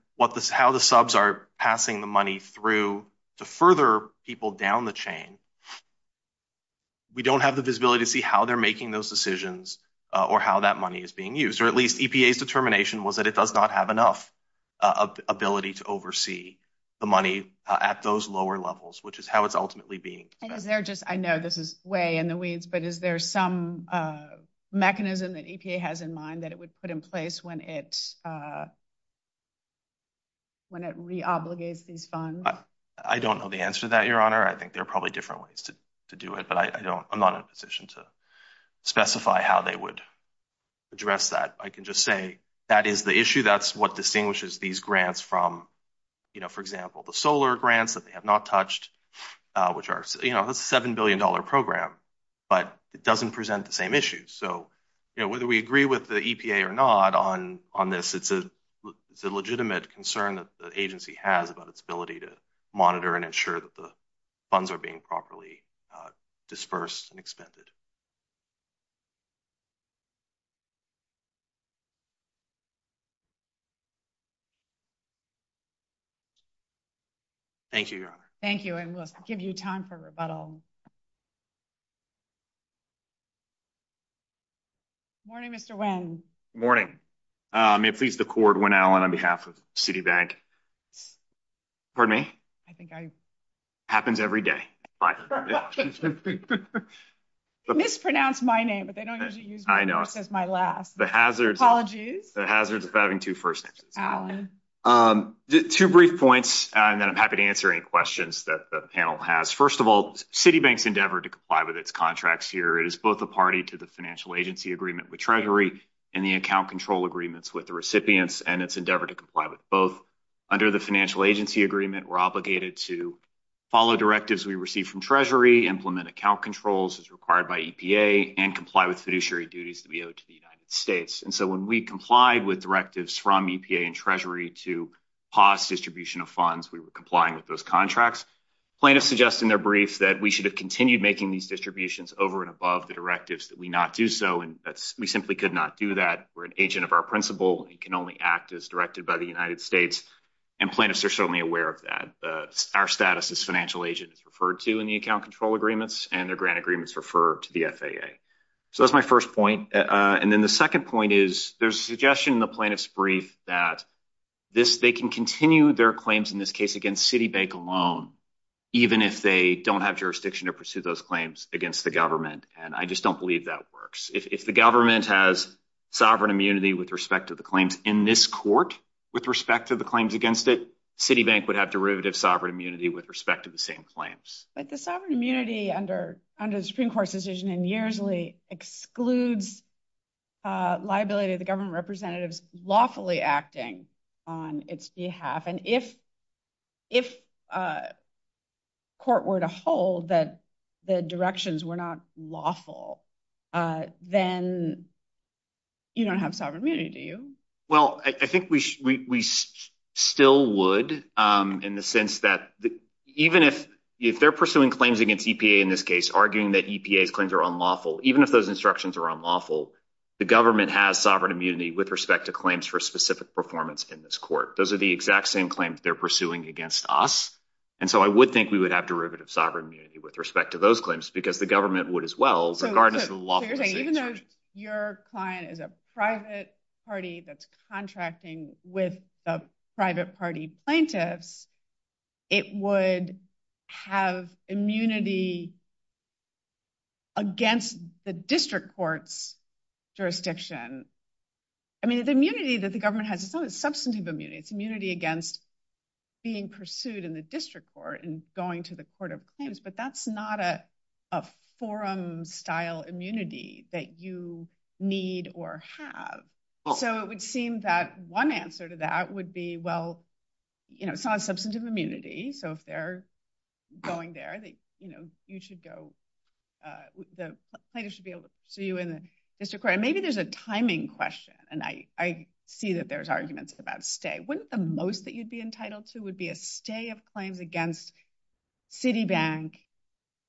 how the subs are passing the money through to further people down the chain. We don't have the visibility to see how they're making those decisions or how that money is being used. Or at least EPA's determination was that it does not have enough ability to oversee the money at those lower levels, which is how it's ultimately being spent. I know this is way in the weeds, but is there some mechanism that EPA has in mind that it would put in place when it... when it re-obligates these funds? I don't know the answer to that, Your Honor. I think there are probably different ways to do it, but I'm not in a position to specify how they would address that. I can just say that is the issue. That's what distinguishes these grants from, for example, the solar grants that they have not touched, which are a $7 billion program, but it doesn't present the same issues. So whether we agree with the EPA or not on this, it's a legitimate concern that the agency has about its ability to monitor and ensure that the funds are being properly dispersed and expended. Thank you, Your Honor. Thank you, and we'll give you time for rebuttal. Good morning, Mr. Wynn. Good morning. May it please the Court, Wynn Allen on behalf of Citibank. Pardon me? Happens every day. Mispronounced my name, but they don't have to use it. I know. It's just my last. The hazards of having two first names. Allen. Two brief points, and then I'm happy to answer any questions that the panel has. First of all, Citibank's endeavor to comply with its contracts here is both a party to the financial agency agreement with Treasury and the account control agreements with the recipients and its endeavor to comply with both. Under the financial agency agreement, we're obligated to follow directives we receive from Treasury, implement account controls as required by EPA, and comply with fiduciary duties to the United States. And so when we complied with directives from EPA and Treasury to pause distribution of funds, we were complying with those contracts. Plaintiffs suggest in their brief that we should have continued making these distributions over and above the directives that we not do so, and we simply could not do that. We're an agent of our principle. We can only act as directed by the United States, and plaintiffs are certainly aware of that. Our status as financial agents is referred to in the account control agreements, and the grant agreements refer to the FAA. So that's my first point. And then the second point is there's a suggestion in the plaintiff's brief that they can continue their claims in this case against Citibank alone, even if they don't have jurisdiction to pursue those claims against the government, and I just don't believe that works. If the government has sovereign immunity with respect to the claims in this court with respect to the claims against it, Citibank would have derivative sovereign immunity with respect to the same claims. But the sovereign immunity under the Supreme Court's decision in Yearley excludes liability of the government representatives lawfully acting on its behalf, and if court were to hold that the directions were not lawful, then you don't have sovereign immunity, do you? Well, I think we still would, in the sense that even if they're pursuing claims against EPA in this case, arguing that EPA claims are unlawful, even if those instructions are unlawful, the government has sovereign immunity with respect to claims for specific performance in this court. Those are the exact same claims they're pursuing against us, and so I would think we would have derivative sovereign immunity with respect to those claims because the government would as well, regardless of the law. Even though your client is a private party that's contracting with a private party plaintiff, it would have immunity against the district court's jurisdiction. I mean, the immunity that the government has is substantive immunity. It's immunity against being pursued in the district court and going to the court of claims, but that's not a forum-style immunity that you need or have. So it would seem that one answer to that would be, well, it's not a substantive immunity, so if they're going there, the plaintiff should be able to see you in the district court. Maybe there's a timing question, and I see that there's arguments about stay. Wouldn't the most that you'd be entitled to would be a stay of claims against Citibank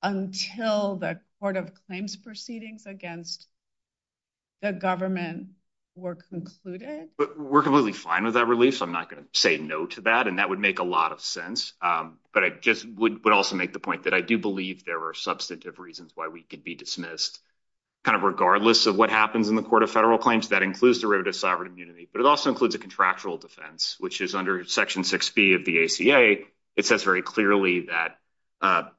until the court of claims proceedings against the government were concluded? We're completely fine with that release. I'm not going to say no to that, and that would make a lot of sense, but I just would also make the point that I do believe there are substantive reasons why we could be dismissed regardless of what happens in the court of federal claims. That includes the right of sovereign immunity, but it also includes a contractual defense, which is under Section 6B of the ACA. It says very clearly that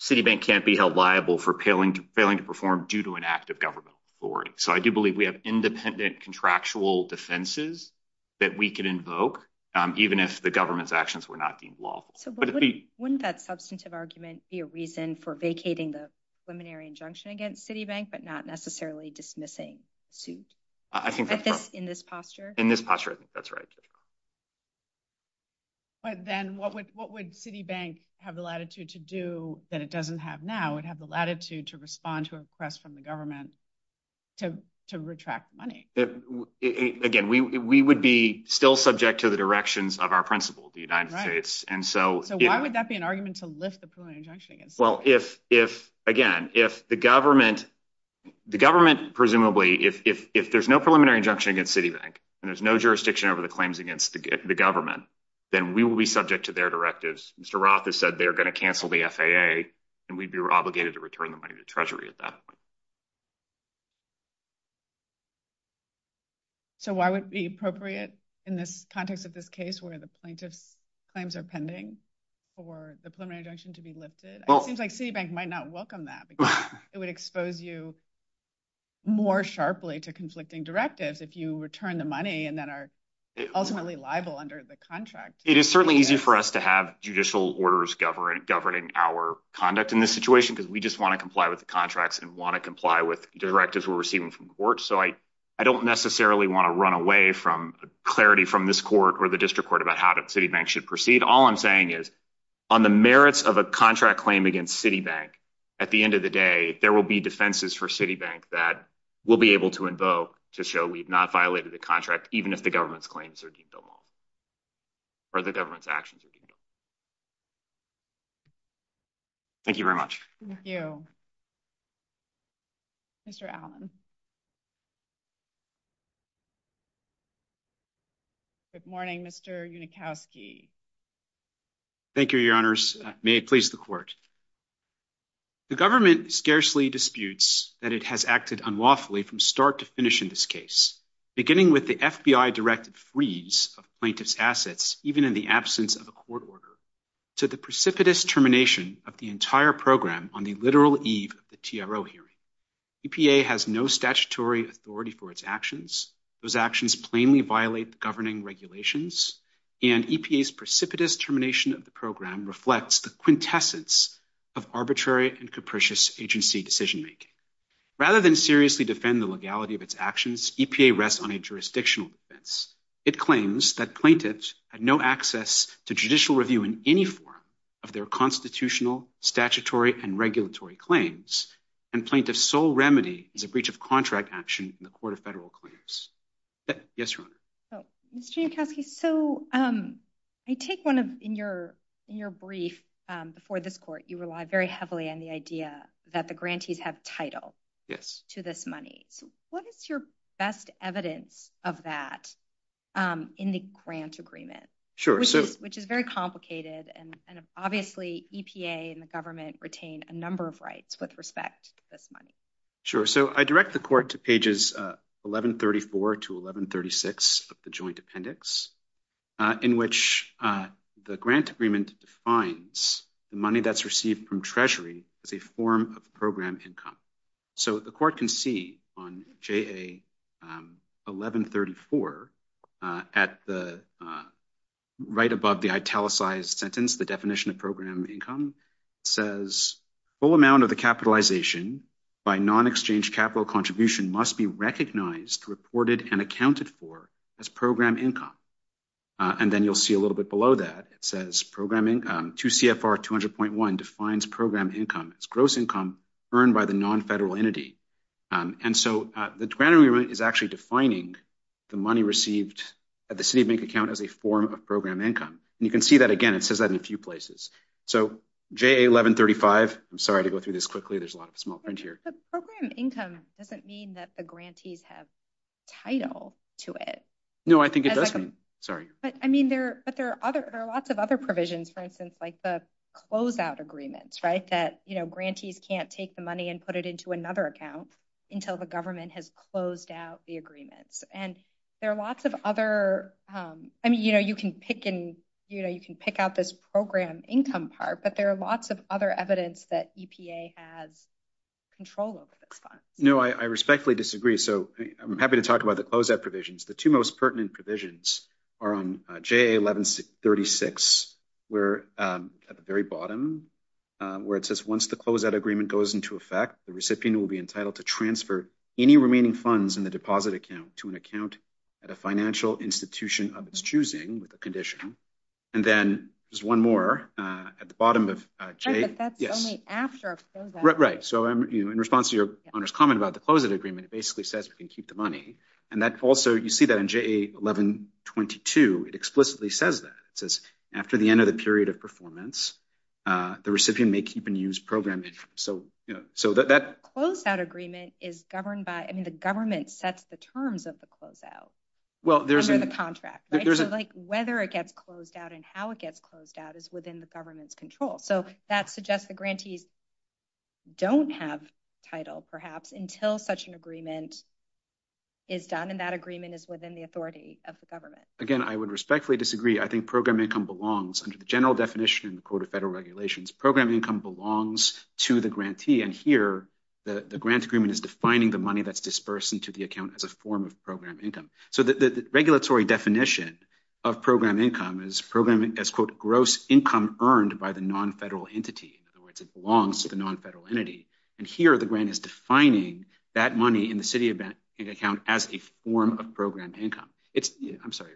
Citibank can't be held liable for failing to perform due to an act of government authority. So I do believe we have independent contractual defenses that we can invoke even if the government's actions were not being lawful. Wouldn't that substantive argument be a reason for vacating the preliminary injunction against Citibank, but not necessarily dismissing suits? In this posture? In this posture, that's right. But then what would Citibank have the latitude to do that it doesn't have now? It would have the latitude to respond to a request from the government to retract money. Again, we would be still subject to the directions of our principal, the United States. So why would that be an argument to lift the preliminary injunction against Citibank? Again, if the government presumably, if there's no preliminary injunction against Citibank, and there's no jurisdiction over the claims against the government, then we will be subject to their directives. Mr. Roth has said they're going to cancel the FAA, and we'd be obligated to return the money to Treasury at that point. So why would it be appropriate in the context of this case where the plaintiff's claims are pending for the preliminary injunction to be lifted? It seems like Citibank might not welcome that because it would expose you more sharply to conflicting directives if you return the money and then are ultimately liable under the contract. It is certainly easy for us to have judicial orders governing our conduct in this situation because we just want to comply with the contracts and want to comply with directives we're receiving from court. So I don't necessarily want to run away from clarity from this court or the district court about how we're going to deal with this case. But what I'm saying is, on the merits of a contract claim against Citibank, at the end of the day, there will be defenses for Citibank that we'll be able to invoke to show we've not violated the contract, even if the government's claims are deemed immoral or the government's actions are deemed immoral. Thank you very much. Thank you. Mr. Allen. Good morning, Mr. Unikowski. Thank you, Your Honors. May it please the Court. The government scarcely disputes that it has acted unlawfully from start to finish in this case, beginning with the FBI-directed freeze of plaintiff's assets even in the absence of a court order to the precipitous termination of the entire program on the literal eve of the TRO hearing. EPA has no direct authority and no statutory authority for its actions. Those actions plainly violate the governing regulations, and EPA's precipitous termination of the program reflects the quintessence of arbitrary and capricious agency decision-making. Rather than seriously defend the legality of its actions, EPA rests on a jurisdictional defense. It claims that plaintiffs had no access to judicial review in any form of their constitutional, statutory, and regulatory claims, and plaintiffs' sole remedy is a breach of contract action in the Court of Federal Clearance. Yes, Your Honor. Mr. Nikowski, so I take one of, in your brief before this Court, you relied very heavily on the idea that the grantees have title to this money. What is your best evidence of that in the grant agreement, which is very complicated, and obviously EPA and the government retain a number of rights with respect to this money? Sure, so I direct the Court to pages 1134 to 1136 of the Joint Appendix, in which the grant agreement defines the money that's received from Treasury as a form of program income. So the Court can see on JA 1134 at the right above the italicized sentence, the definition of program income, says full amount of the capitalization by non-exchange capital contribution must be recognized, reported, and accounted for as program income. And then you'll see a little bit below that, it says program income, 2 CFR 200.1 defines program income as gross income earned by the non-federal entity. And so the grant agreement is actually defining the money received at the city bank account as a form of program income. And you can see that again, it says that in a few places. So JA 1135, I'm sorry to go through this quickly, there's a lot of small print here. But program income doesn't mean that the grantees have title to it. No, I think it doesn't, sorry. But I mean, there are lots of other provisions, for instance, like the closeout agreements, right, that, you know, grantees can't take the money and put it into another account until the government has closed out the agreement. And there are lots of other, I mean, you know, you can pick out this program income part, but there are lots of other evidence that EPA has control over this fund. No, I respectfully disagree. So I'm happy to talk about the closeout provisions. The two most pertinent provisions are on JA 1136, where at the very bottom, where it says once the closeout agreement goes into effect, the recipient will be entitled to transfer any remaining funds in the deposit account to an account at a financial institution of its choosing with a condition. And then there's one more at the bottom of JA. That's only after a closeout. Right, so in response to your owner's comment about the closeout agreement, it basically says you can keep the money. And that also, you see that in JA 1122, it explicitly says that. It says, after the end of the period of performance, the recipient may keep and use program income. So that closeout agreement is governed by, I mean, the government sets the terms of the closeout under the contract. So whether it gets closed out and how it gets closed out is within the government's control. So that suggests the grantees don't have title, perhaps, until such an agreement is done, and that agreement is within the authority of the government. Again, I would respectfully disagree. I think program income belongs, under the general definition in the Code of Federal Regulations, program income belongs to the grantee. And here, the grant agreement is defining the money that's dispersed into the account as a form of program income. So the regulatory definition of program income is program as, quote, gross income earned by the non-federal entity. In other words, it belongs to the non-federal entity. And here, the grant is defining that money in the city event account as a form of program income. I'm sorry.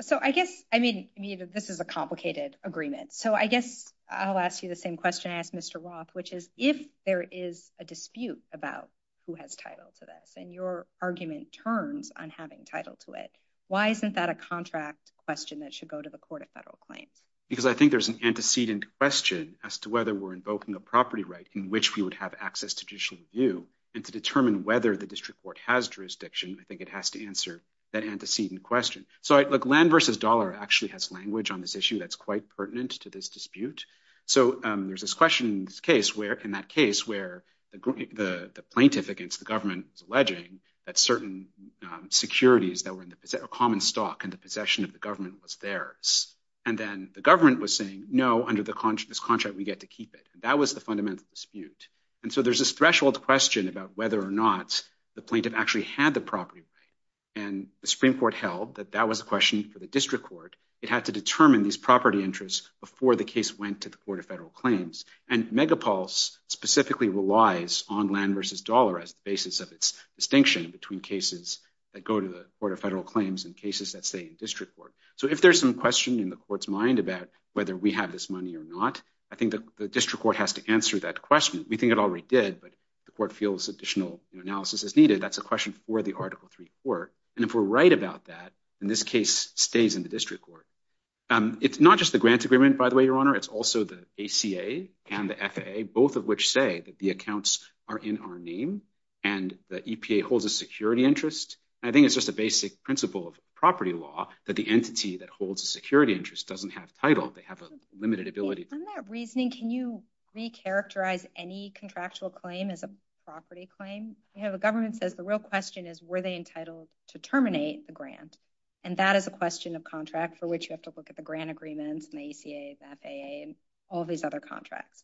So I guess, I mean, this is a complicated agreement. So I guess I'll ask you the same question I asked Mr. Roth, which is, if there is a dispute about who has title to this, and your argument turns on having title to it, why isn't that a contract question that should go to the Court of Federal Claims? Because I think there's an antecedent question as to whether we're invoking a property right in which we would have access to judicial review. And to determine whether the district court has jurisdiction, I think it has to answer that antecedent question. So, land versus dollar actually has language on this issue that's quite pertinent to this dispute. So there's this question in that case where the plaintiff against the government was alleging that certain securities that were common stock and the possession of the government was theirs. And then the government was saying no, under this contract we get to keep it. That was the fundamental dispute. And so there's this threshold question about whether or not the plaintiff actually had the property right. And the Supreme Court held that that was a question for the district court. It had to determine these property interests before the case went to the Court of Federal Claims. And Megapulse specifically relies on land versus dollar as the basis of its distinction between cases that go to the Court of Federal Claims and cases that stay in the district court. So if there's some question in the court's mind about whether we have this money or not, I think the district court has to answer that question. We think it already did, but the court feels additional analysis is needed. That's a question for the Article 3 court. And if we're right about that, then this case stays in the district court. It's not just the grant agreement, by the way, Your Honor. It's also the ACA and the FAA, both of which say that the accounts are in our name and the EPA holds a security interest. I think it's just a basic principle of property law that the entity that holds a security interest doesn't have title. They have a limited ability. On that reasoning, can you recharacterize any contractual claim as a property claim? You know, the government says the real question is were they entitled to terminate the grant? And that is a question of contracts for which you have to look at the grant agreements and ACA and FAA and all these other contracts.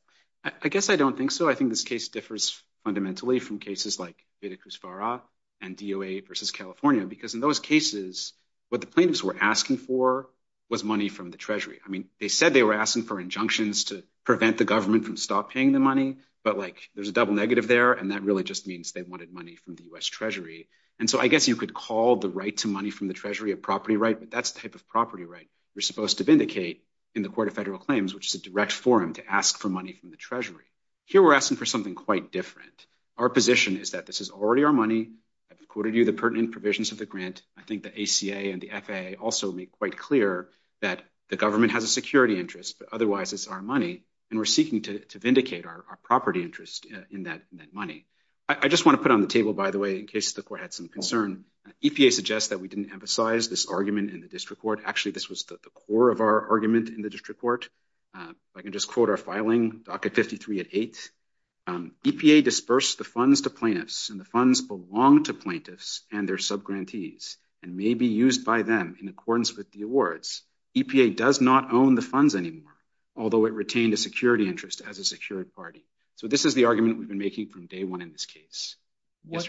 I guess I don't think so. I think this case differs fundamentally from cases like Cusco and DOA versus California because in those cases, what the plaintiffs were asking for was money from the Treasury. I mean, they said they were asking for injunctions to prevent the government from stopping the money, but like there's a double negative there and that really just means they wanted money from the U.S. Treasury. And so I guess you could call the right to money from the Treasury a property right, but that's the type of property right you're supposed to vindicate in the Court of Federal Claims, which is a direct forum to ask for money from the Treasury. Here we're asking for something quite different. Our position is that this is already our money. I've quoted you the pertinent provisions of the grant. I think the ACA and the FAA also make quite clear that the government has a security interest, but otherwise it's our money, and we're seeking to vindicate our property interest in that money. I just want to put on the table, by the way, in case the Court had some concern, EPA suggests that we didn't emphasize this argument in the district court. Actually, this was the core of our argument in the district court. I can just quote our filing, Docket 53 at 8. EPA disbursed the funds to plaintiffs and the funds belong to plaintiffs and their subgrantees and may be used by them in accordance with the awards. EPA does not own the funds anymore, although it retained a security interest as a security party. This is the argument we've been making from day one in this case. What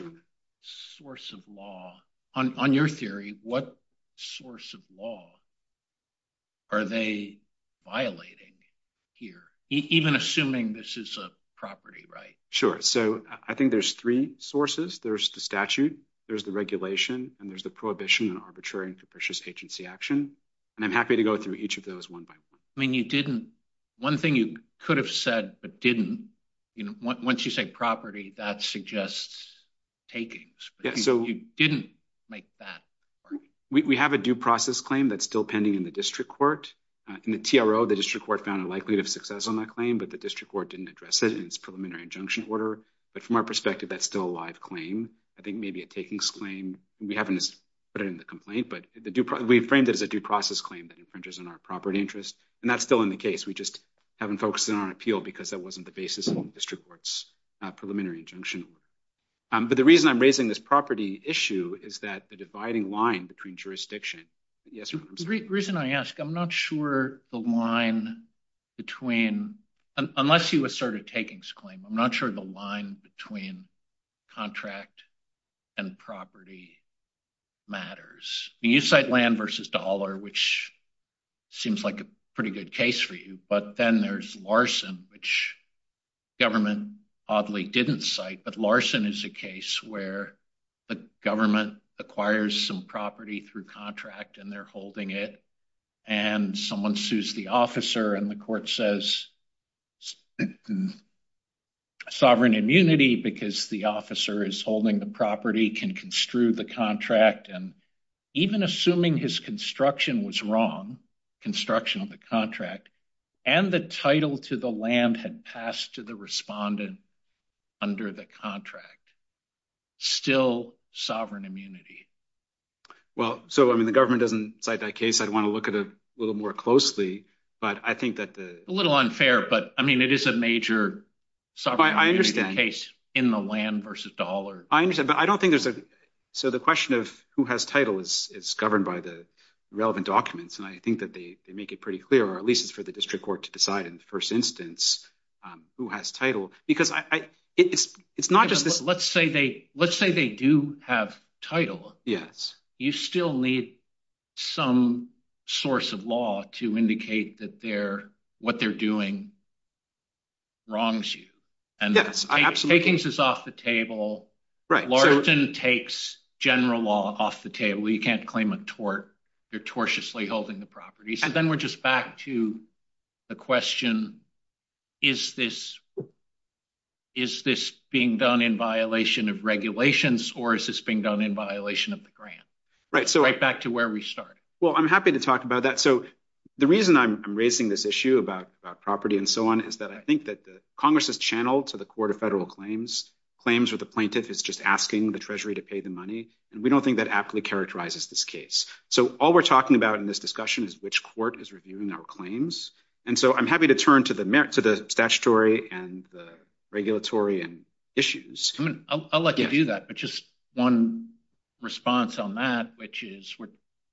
source of law, on your theory, what source of law are they violating here, even assuming this is a property right? Sure. I think there's three sources. There's the statute, there's the regulation, and there's the prohibition and arbitrary and capricious agency action. I'm happy to go through each of those one by one. One thing you could have said but didn't. Once you say property, that suggests takings. You didn't make that. We have a due process claim that's still pending in the district court. In the TRO, the district court found a likelihood of success on that claim, but the district court didn't address it in its preliminary injunction order. From our perspective, that's still a live claim. I think maybe a takings claim. We haven't put it in the complaint, but we framed it as a due process claim that infringes on our property interest. That's still in the case. We just haven't focused it on appeal because that wasn't the basis of the district court's preliminary injunction. The reason I'm raising this property issue is that the dividing line between jurisdiction... The reason I ask, I'm not sure the line between... Unless you assert a takings claim, I'm not sure the line between contract and property matters. You cite land versus dollar, which seems like a pretty good case for you, but then there's Larson, which the government probably didn't cite, but Larson is a case where the government acquires some property through contract and they're holding it, and someone sues the officer and the court says sovereign immunity because the officer is holding the property can construe the contract and even assuming his construction was wrong, construction of the contract, and the title to the land had passed to the respondent under the contract. Still sovereign immunity. The government doesn't cite that case. I'd want to look at it a little more closely, but I think that the... A little unfair, but it is a major sovereign immunity case in the land versus dollar. I understand, but I don't think there's... The question of who has title is governed by the relevant documents, and I think that they make it pretty clear, or at least it's for the district court to decide in the first instance who has title, because it's not just... Let's say they do have title. Yes. You still need some source of law to indicate that what they're doing wrongs you. Yes, absolutely. Taking this off the table, Larson takes general law off the table. You can't claim a tort. They're tortiously holding the property. Then we're just back to the question, is this being done in violation of regulations, or is this being done in violation of the grant? Right back to where we started. I'm happy to talk about that. The reason I'm raising this issue about property and so on is that I think that Congress has channeled to the Court of Federal Claims where the plaintiff is just asking the Treasury to pay the money, and we don't think that accurately characterizes this case. All we're talking about in this discussion is which court is reviewing our claims. I'm happy to turn to the statutory and the regulatory and issues. I'll let you do that, but just one response on that, which is we're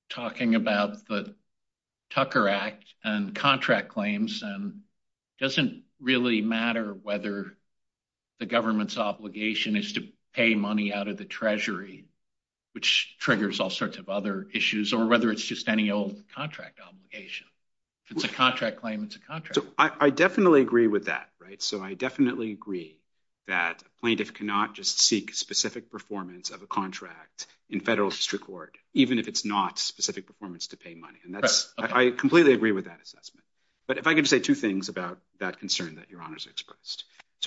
talking about the Tucker Act and contract claims, and it doesn't really matter whether the government's obligation is to pay money out of the Treasury, which triggers all sorts of other issues, or whether it's just any old contract obligation. If it's a contract claim, it's a contract. I definitely agree with that. I definitely agree that plaintiff cannot just seek specific performance of a contract in federal district court, even if it's not specific performance to pay money. I completely agree with that assessment. If I could say two things about that concern that Your Honor has expressed.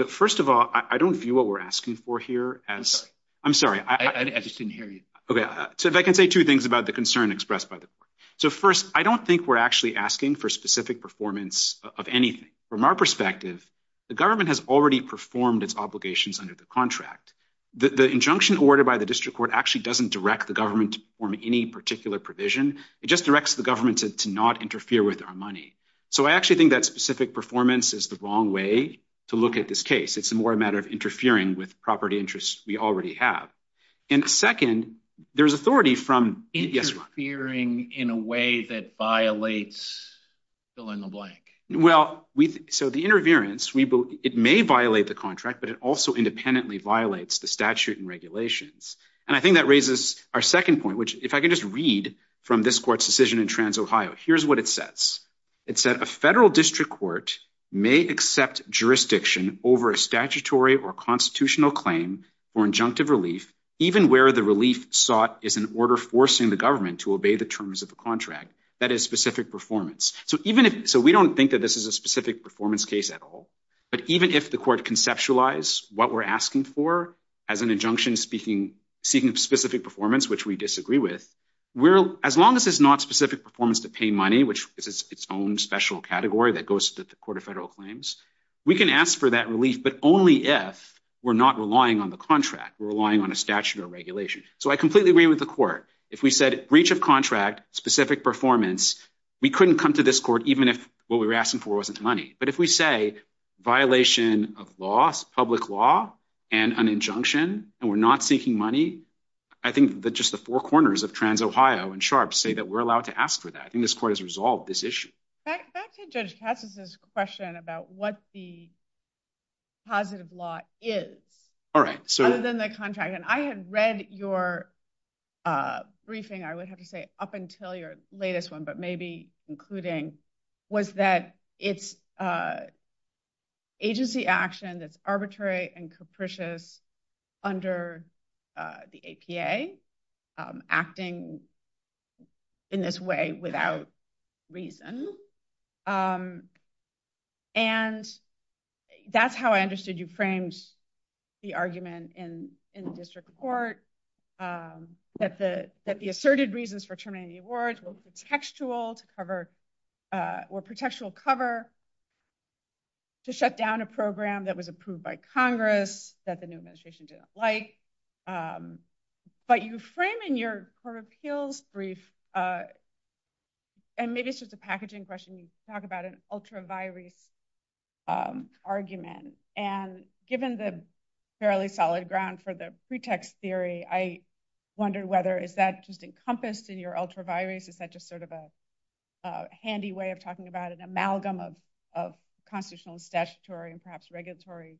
First of all, I don't view what we're asking for here as... I'm sorry. I just didn't hear you. If I can say two things about the concern expressed by the court. First, I don't think we're actually asking for specific performance of anything. From our perspective, the government has already performed its obligations under the contract. The injunction ordered by the district court actually doesn't direct the government to perform any particular provision. It just directs the government to not interfere with our money. I actually think that specific performance is the wrong way to look at this case. It's more a matter of interfering with property interests we already have. Second, there's authority from... Interfering in a way that violates fill in the blank. The interference, it may violate the contract, but it also independently violates the statute and regulations. I think that raises our second point, which if I could just read from this court's decision in TransOhio, here's what it says. It said, a federal district court may accept jurisdiction over a statutory or constitutional claim for injunctive relief, even where the relief sought is an order forcing the government to obey the terms of the contract. That is specific performance. We don't think that this is a specific performance case at all, but even if the court conceptualized what we're asking for as an injunction speaking of specific performance, which we disagree with, as long as it's not specific performance to pay money, which is its own special category that goes to the Court of Federal Claims, we can ask for that relief, but only if we're not relying on the contract. We're relying on a statute or regulation. So I completely agree with the court. If we said breach of contract, specific performance, we couldn't come to this court even if what we were asking for wasn't money. But if we say violation of law, public law, and an injunction and we're not seeking money, I think that just the four corners of TransOhio and SHARP say that we're allowed to ask for that. I think this court has resolved this issue. Back to Judge Katsas' question about what the positive law is other than the contract. And I have read your briefing, I would have to say up until your latest one, but maybe concluding, was that it's agency action that's arbitrary and capricious under the APA, acting in this way without reason. And that's how I understood you framed the argument in the district court that the asserted reasons for terminating the award were contextual or contextual cover to shut down a program that was approved by Congress, that the new administration didn't like. But you frame in your Court of Appeals brief and maybe it's just a packaging question, you talk about an ultra-virus argument. And given the fairly solid ground for the pretext theory, I wonder whether is that just encompassed in your ultra-virus, is that just sort of a handy way of talking about an amalgam of additional statutory and perhaps regulatory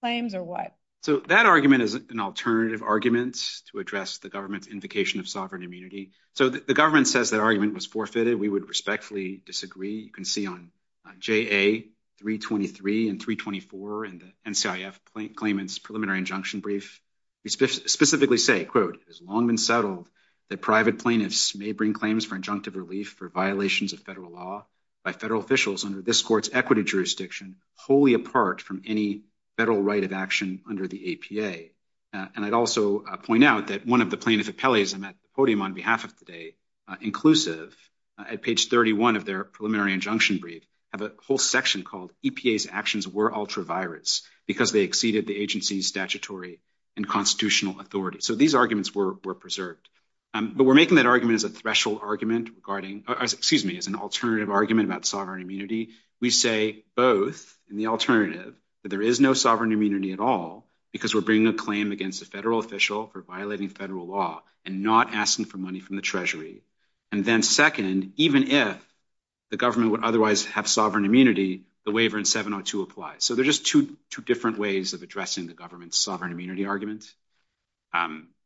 claims or what? So that argument is an alternative argument to address the government's invocation of sovereign immunity. So the government says that argument was forfeited. We would respectfully disagree. You can see on JA-323 and 324 in the NCIF claimant's preliminary injunction brief. We specifically say, quote, it has long been settled that private plaintiffs may bring claims for injunctive relief for violations of federal law by federal officials under this Court's equity jurisdiction wholly apart from any federal right of action under the APA. And I'd also point out that one of the plaintiffs at Kelly is on that podium on behalf of today, inclusive, at page 31 of their preliminary injunction brief, have a whole section called EPA's actions were ultra-virus because they exceeded the agency's statutory and constitutional authority. So these arguments were preserved. But we're making that argument as a threshold argument regarding excuse me, as an alternative argument about sovereign immunity. We say both in the alternative that there is no sovereign immunity at all because we're bringing a claim against a federal official for violating federal law and not asking for money from the Treasury. And then second, even if the government would otherwise have sovereign immunity, the waiver in 702 applies. So they're just two different ways of addressing the government's sovereign immunity argument.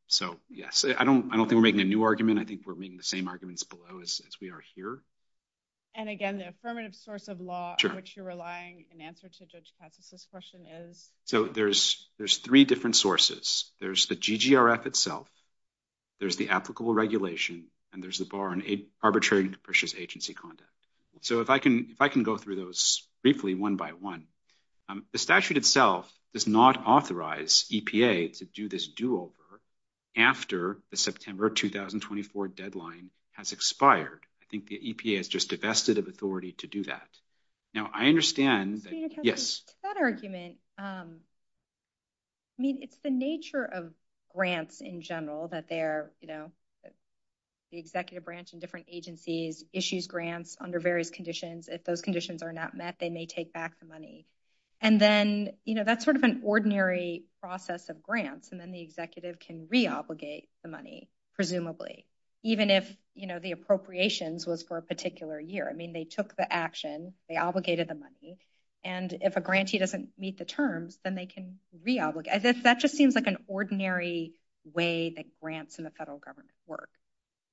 So yes, I don't think we're making a new argument. I think we're making the same arguments below as we are here. And again, the affirmative source of law in which you're relying in answer to Judge Katsas' question is? So there's three different sources. There's the GGRF itself, there's the applicable regulation, and there's the arbitrary and capricious agency conduct. So if I can go through those briefly one by one, the statute itself does not authorize EPA to do this do-over after the September 2024 deadline has expired. I think the EPA has just divested of authority to do that. Now, I understand that... Yes? That argument, I mean, it's the nature of grants in general that they're, you know, the executive branch and different agencies issues grants under various conditions. If those conditions are not met, they may take back the money. And then, you know, that's sort of an ordinary process of grants and then the executive can re-obligate the money, presumably, even if, you know, the appropriations was for a particular year. I mean, they took the action, they obligated the money, and if a grantee doesn't meet the terms, then they can re-obligate. That just seems like an ordinary way that grants in the federal government work.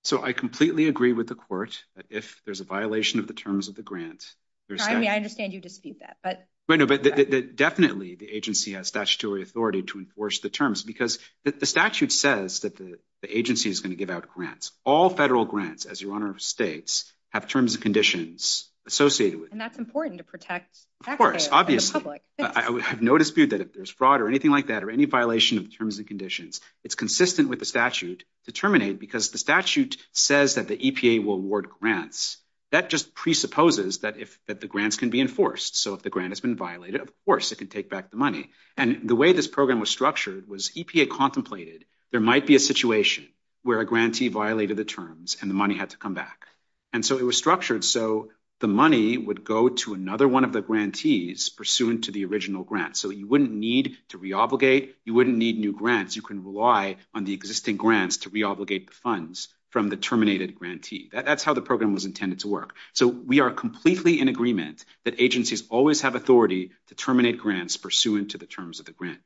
So I completely agree with the court that if there's a violation of the terms of the grants... I understand you deceived that, but... Definitely, the agency has statutory authority to enforce the terms because the statute says that the agency is going to give out grants. All federal grants, as your Honor states, have terms and conditions associated with them. And that's important to protect the public. Of course, obviously. I have no dispute that if there's fraud or anything like that or any violation of terms and conditions, it's consistent with the statute, determined because the statute says that the EPA will award grants. That just presupposes that the grants can be enforced. So if the grant has been violated, of course it can take back the money. And the way this program was structured was EPA contemplated there might be a situation where a grantee violated the terms and the money had to come back. And so it was structured so the money would go to another one of the grantees pursuant to the original grant. So you wouldn't need to re-obligate. You wouldn't need new grants. You can rely on the existing grants to re-obligate the funds from the terminated grantee. That's how the program was intended to work. So we are completely in agreement that agencies always have authority to terminate grants pursuant to the terms of the grant.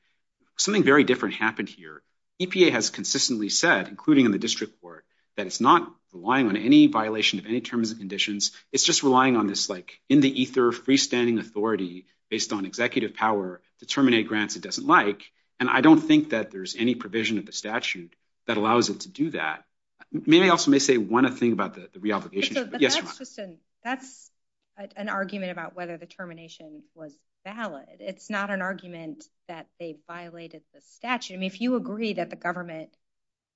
Something very different happened here. EPA has consistently said, including in the district court, that it's not relying on any violation of any terms and conditions. It's just relying on this like in the ether freestanding authority based on executive power to terminate grants it doesn't like. And I don't think that there's any provision of the statute that allows it to do that. Maybe I also may say one other thing about the re-obligation. That's an argument about whether the termination was valid. It's not an argument that they violated the statute. I mean, if you agree that the government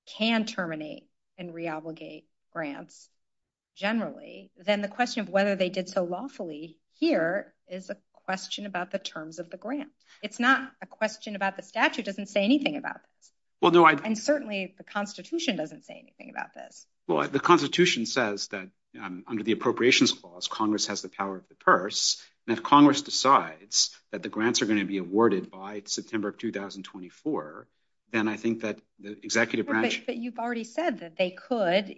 can terminate and re-obligate grants generally, then the question of whether they did so lawfully here is a question about the terms of the grant. It's not a question about the statute. It doesn't say anything about it. And certainly the Constitution doesn't say anything about this. Well, the Constitution says that under the Appropriations Clause, Congress has the power of the purse. And if Congress decides that the grants are going to be awarded by September of 2024, then I think that the executive branch... But you've already said that they could,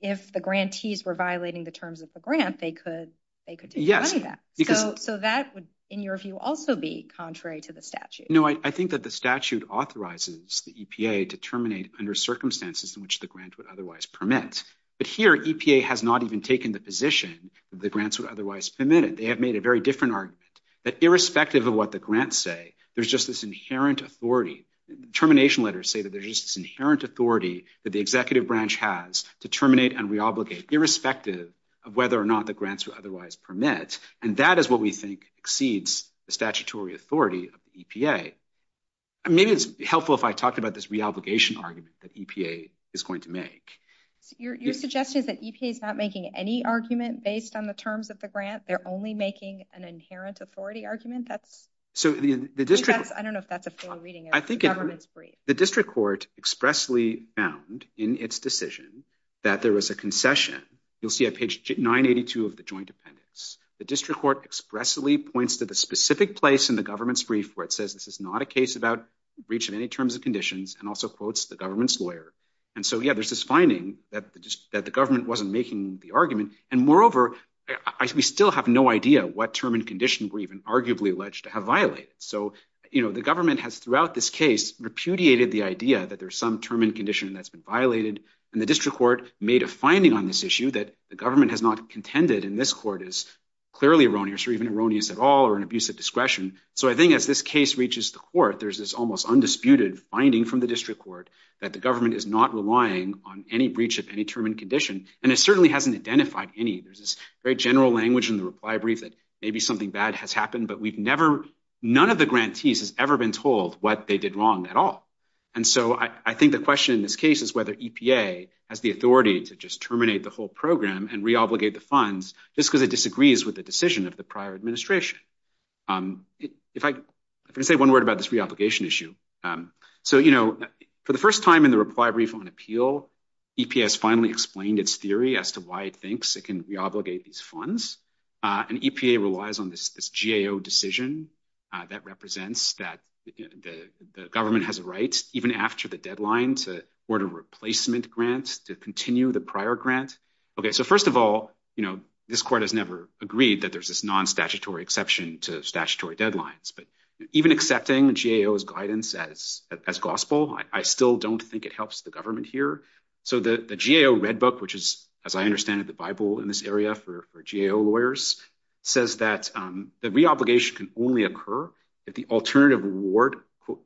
if the grantees were violating the terms of the grant, they could do any of that. So that would, in your view, also be contrary to the statute. No, I think that the statute authorizes the EPA to terminate under circumstances in which the grant would otherwise permit. But here, EPA has not even taken the position that the grants would otherwise permit. They have made a very different argument, that irrespective of what the grants say, there's just this inherent authority. Termination letters say that there's just this inherent authority that the executive branch has to terminate and re-obligate, irrespective of whether or not the grants would otherwise permit. And that is what we think exceeds the statutory authority of the EPA. I mean, it would be helpful if I talked about this re-obligation argument that EPA is going to make. You're suggesting that EPA is not making any argument based on the terms of the grant? They're only making an inherent authority argument? I don't know if that's a full reading. I think the district court expressly found in its decision that there was a concession. You'll see on page 982 of the joint appendix, the district court expressly points to the specific place in the government's brief where it says this is not a case about breach in any terms and conditions, and also quotes the government's lawyer. And so, yeah, there's this finding that the government wasn't making the argument. And moreover, we still have no idea what term and condition were even arguably alleged to have violated. So, you know, the government has throughout this case repudiated the idea that there's some term and condition that's been violated. And the district court made a finding on this issue that the government has not contended in this court is clearly erroneous or even erroneous at all or an abusive discretion. So I think as this case reaches the court, there's this almost undisputed finding from the district court that the government is not relying on any breach of any term and condition. And it certainly hasn't identified any. There's this very general language in the library that maybe something bad has happened, but we've never, none of the grantees has ever been told what they did wrong at all. And so I think the question in this case is whether EPA has the authority to just terminate the whole program and re-obligate the funds just because it disagrees with the decision of the prior administration. If I could say one word about this re-obligation issue. So, you know, for the first time in the Reply, Brief, and Appeal, EPA has finally explained its theory as to why it thinks it can re-obligate these funds. And EPA relies on this GAO decision that represents that the government has a right, even after the deadline, to order a replacement grant to continue the prior grant. Okay, so first of all, you know, this court has never agreed that there's this non-statutory exception to statutory deadlines, but even accepting GAO's guidance as gospel, I still don't think it helps the government here. So the GAO Red Book, which is, as I understand it, the Bible in this area for GAO lawyers, says that the re-obligation can only occur if the alternative reward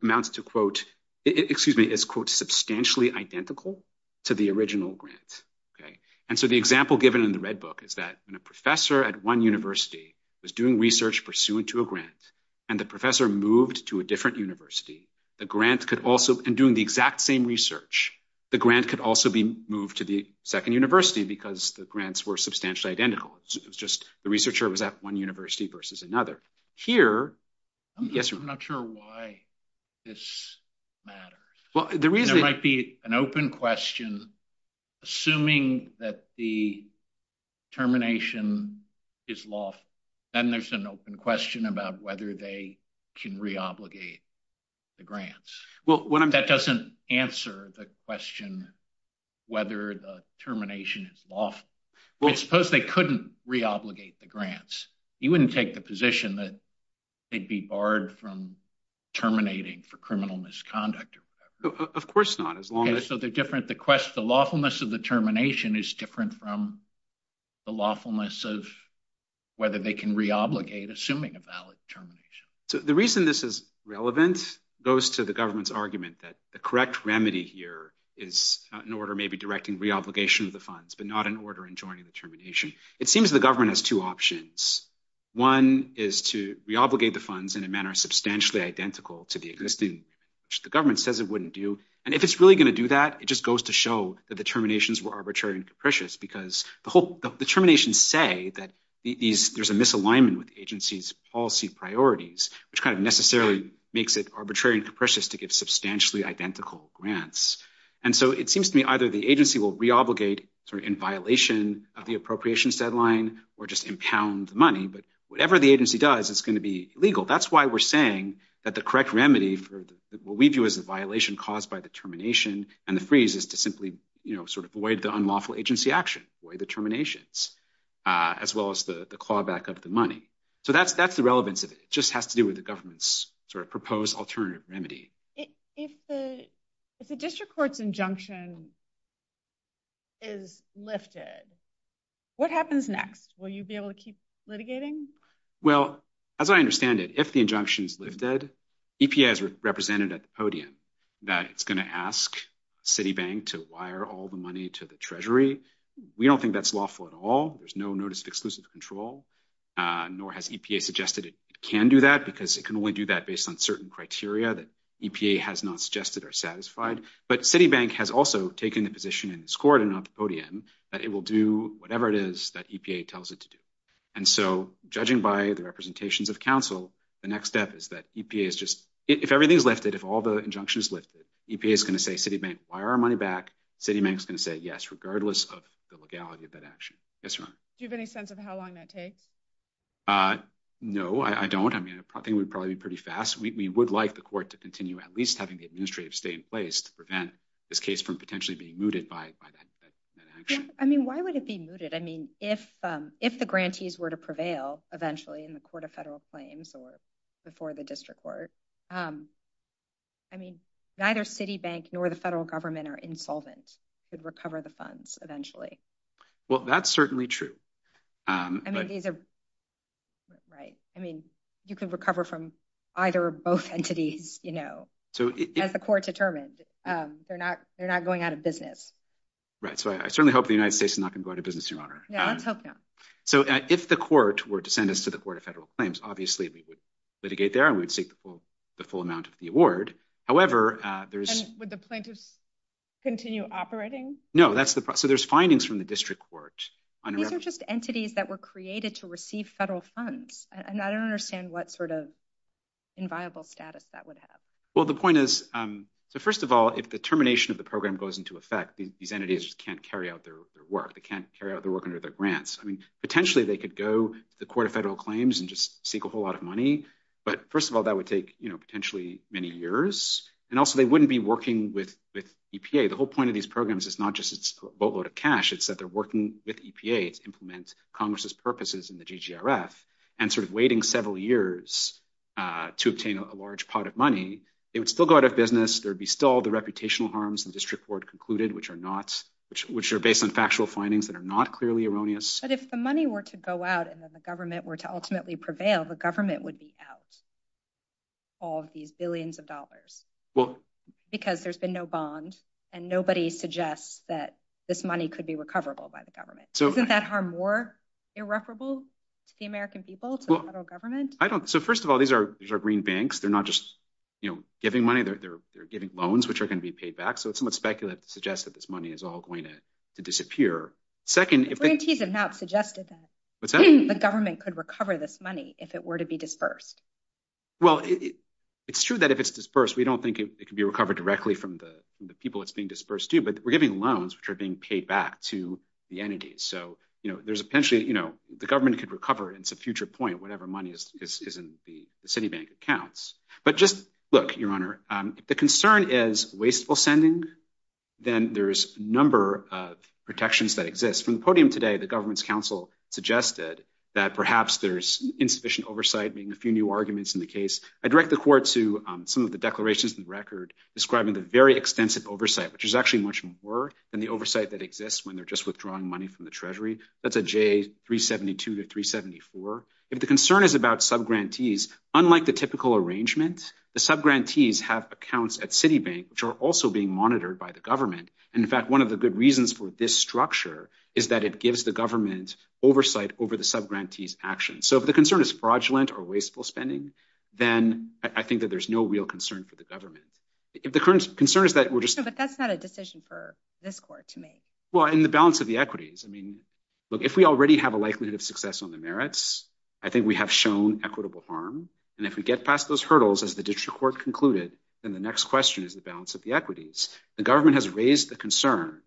amounts to, quote, excuse me, it's quote, substantially identical to the original grant. Okay, and so the example given in the Red Book is that when a professor at one university was doing research pursuant to a grant, and the professor moved to a different university, the grant could also, in doing the exact same research, the grant could also be moved to the second university because the grants were substantially identical. It's just the researcher was at one university versus another. Here, I'm not sure why this matters. There might be an open question, assuming that the termination is lawful, then there's an open question about whether they can re-obligate the grants. That doesn't answer the question whether the termination is lawful. Suppose they couldn't re-obligate the grants. You wouldn't take the position that they'd be barred from terminating for criminal misconduct. Of course not. The lawfulness of the termination is different from the lawfulness of whether they can re-obligate, assuming a valid termination. The reason this is relevant goes to the government's argument that the correct remedy here is an order maybe directing re-obligation of the funds, but not an order in joining the termination. It seems the government has two options. One is to re-obligate the funds in a manner substantially identical to the existing, which the government says it wouldn't do. If it's really going to do that, it just goes to show that the terminations were arbitrary and capricious because the terminations say that there's a misalignment with the agency's policy priorities, which necessarily makes it arbitrary and capricious to give substantially identical grants. It seems to me either the agency will re-obligate in violation of the appropriations deadline or just impound money, but whatever the agency does, it's going to be illegal. That's why we're saying that the correct remedy for what we do is a violation caused by the termination and the freeze is to simply avoid the unlawful agency action, avoid the terminations, as well as the clawback of the money. That's the relevance of it. It just has to do with the government's proposed alternative remedy. If the district court's injunction is lifted, what happens next? Will you be able to keep litigating? Well, as I understand it, if the injunction is lifted, EPA has represented at the podium that it's going to ask Citibank to wire all the money to the Treasury. We don't think that's lawful at all. There's no notice of exclusive control, nor has EPA suggested it can do that because it can only do that based on certain criteria that EPA has not suggested are satisfied, but Citibank has also taken the position in this court and on the podium that it will do whatever it is that EPA tells it to do. And so, judging by the representations of counsel, the next step is that EPA is just... If everything is lifted, if all the injunction is lifted, EPA is going to say, Citibank, wire our money back. Citibank's going to say yes, regardless of the legality of that action. Do you have any sense of how long that takes? No, I don't. I think it would probably be pretty fast. We would like the court to continue at least having the administrative stay in place to prevent this case from potentially being mooted by that action. I mean, why would it be mooted? If the grantees were to prevail eventually in the court of federal claims or before the district court, I mean, neither Citibank nor the federal government are insolvent to recover the funds eventually. Well, that's certainly true. I mean, you could recover from either or both entities, as the court determined. They're not going out of business. Right. So I certainly hope the United States is not going to go out of business, Your Honor. So if the court were to send us to the court of federal claims, obviously, we would litigate there and we would seek the full amount of the award. However, there's... And would the plaintiffs continue operating? No. So there's findings from the district court. Those are just entities that were created to receive federal funds. I don't understand what sort of inviolable status that would have. Well, the point is, first of all, if the termination of the program goes into effect, these entities can't carry out their work. They can't carry out their work under their grants. I mean, potentially, they could go to the court of federal claims and just seek a whole lot of money. But first of all, that would take, you know, potentially many years. And also, they wouldn't be working with EPA. The whole point of these programs is not just a boatload of cash. It's that they're working with EPA to implement Congress's purposes in the GGRF, and sort of waiting several years to obtain a large pot of money. They would still go out of business. There'd be still the reputational harms the district court concluded, which are based on factual findings that are not clearly erroneous. But if the money were to go out, and then the government were to ultimately prevail, the government would be out of these billions of dollars. Because there's been no bonds, and nobody suggests that this money could be recoverable by the government. Isn't that harm more irreparable to the American people, to the federal government? So first of all, these are green banks. They're not just, you know, giving money. They're giving loans, which are going to be paid back. So it's not speculative to suggest that this money is all going to disappear. Second, if they... But government could recover this money if it were to be disbursed. Well, it's true that if it's disbursed, we don't think it could be recovered directly from the people it's being disbursed to. But we're giving loans, which are being paid back to the entities. So, you know, there's potentially, you know, the government could recover it at a future point, whatever money is in the Citibank accounts. But just look, Your Honor, if the concern is wasteful sending, then there's a number of protections that exist. From the podium today, the government's counsel suggested that perhaps there's insufficient oversight, being a few new arguments in the case. I direct the court to some of the declarations in the record describing the very extensive oversight, which is actually much more than the oversight that exists when they're just withdrawing money from the Treasury. That's a J372-374. If the concern is about subgrantees, unlike the typical arrangements, the subgrantees have accounts at Citibank, which are also being monitored by the government. In fact, one of the good reasons for this structure is that it gives the government oversight over the subgrantees' actions. So if the concern is fraudulent or wasteful spending, then I think that there's no real concern for the government. But that's not a decision for this court to make. Well, in the balance of the equities, if we already have a likelihood of success on the merits, I think we have shown equitable harm. And if we get past those hurdles, as the district court concluded, then the next question is the balance of the equities. The government has raised the concern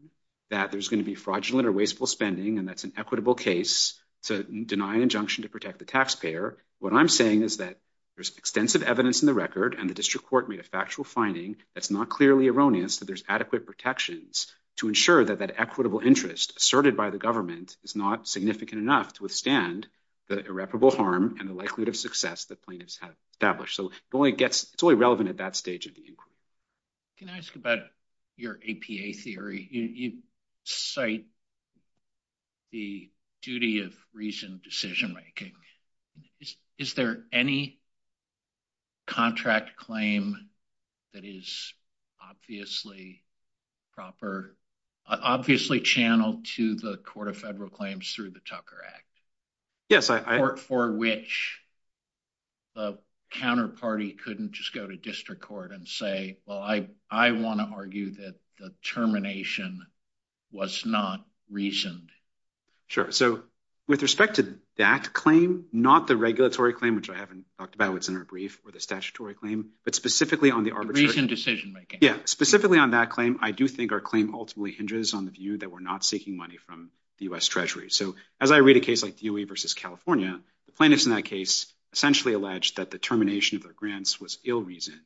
that there's going to be fraudulent or wasteful spending, and that's an equitable case to deny injunction to protect the taxpayer. What I'm saying is that there's extensive evidence in the record, and the district court made a factual finding that's not clearly erroneous, that there's adequate protections to ensure that that equitable interest asserted by the government is not significant enough to withstand the irreparable harm and the likelihood of success that plaintiffs have established. So it's only relevant at that stage of the inquiry. Can I ask about your APA theory? You cite the duty of reasoned decision-making. Is there any contract claim that is obviously proper, obviously channeled to the Court of Federal Claims through the Tucker Act? Yes. For which the counterparty couldn't just go to district court and say, well, I want to argue that the termination was not reasoned? Sure. So with respect to that claim, not the regulatory claim, which I haven't talked about, which is in our brief, or the statutory claim, but specifically on the arbitration... Reasoned decision-making. Yeah. Specifically on that claim, I do think our claim ultimately hinges on the view that we're not seeking money from the U.S. Treasury. So as I read a case like Dewey versus California, the plaintiffs in that case essentially alleged that the termination of the grants was ill-reasoned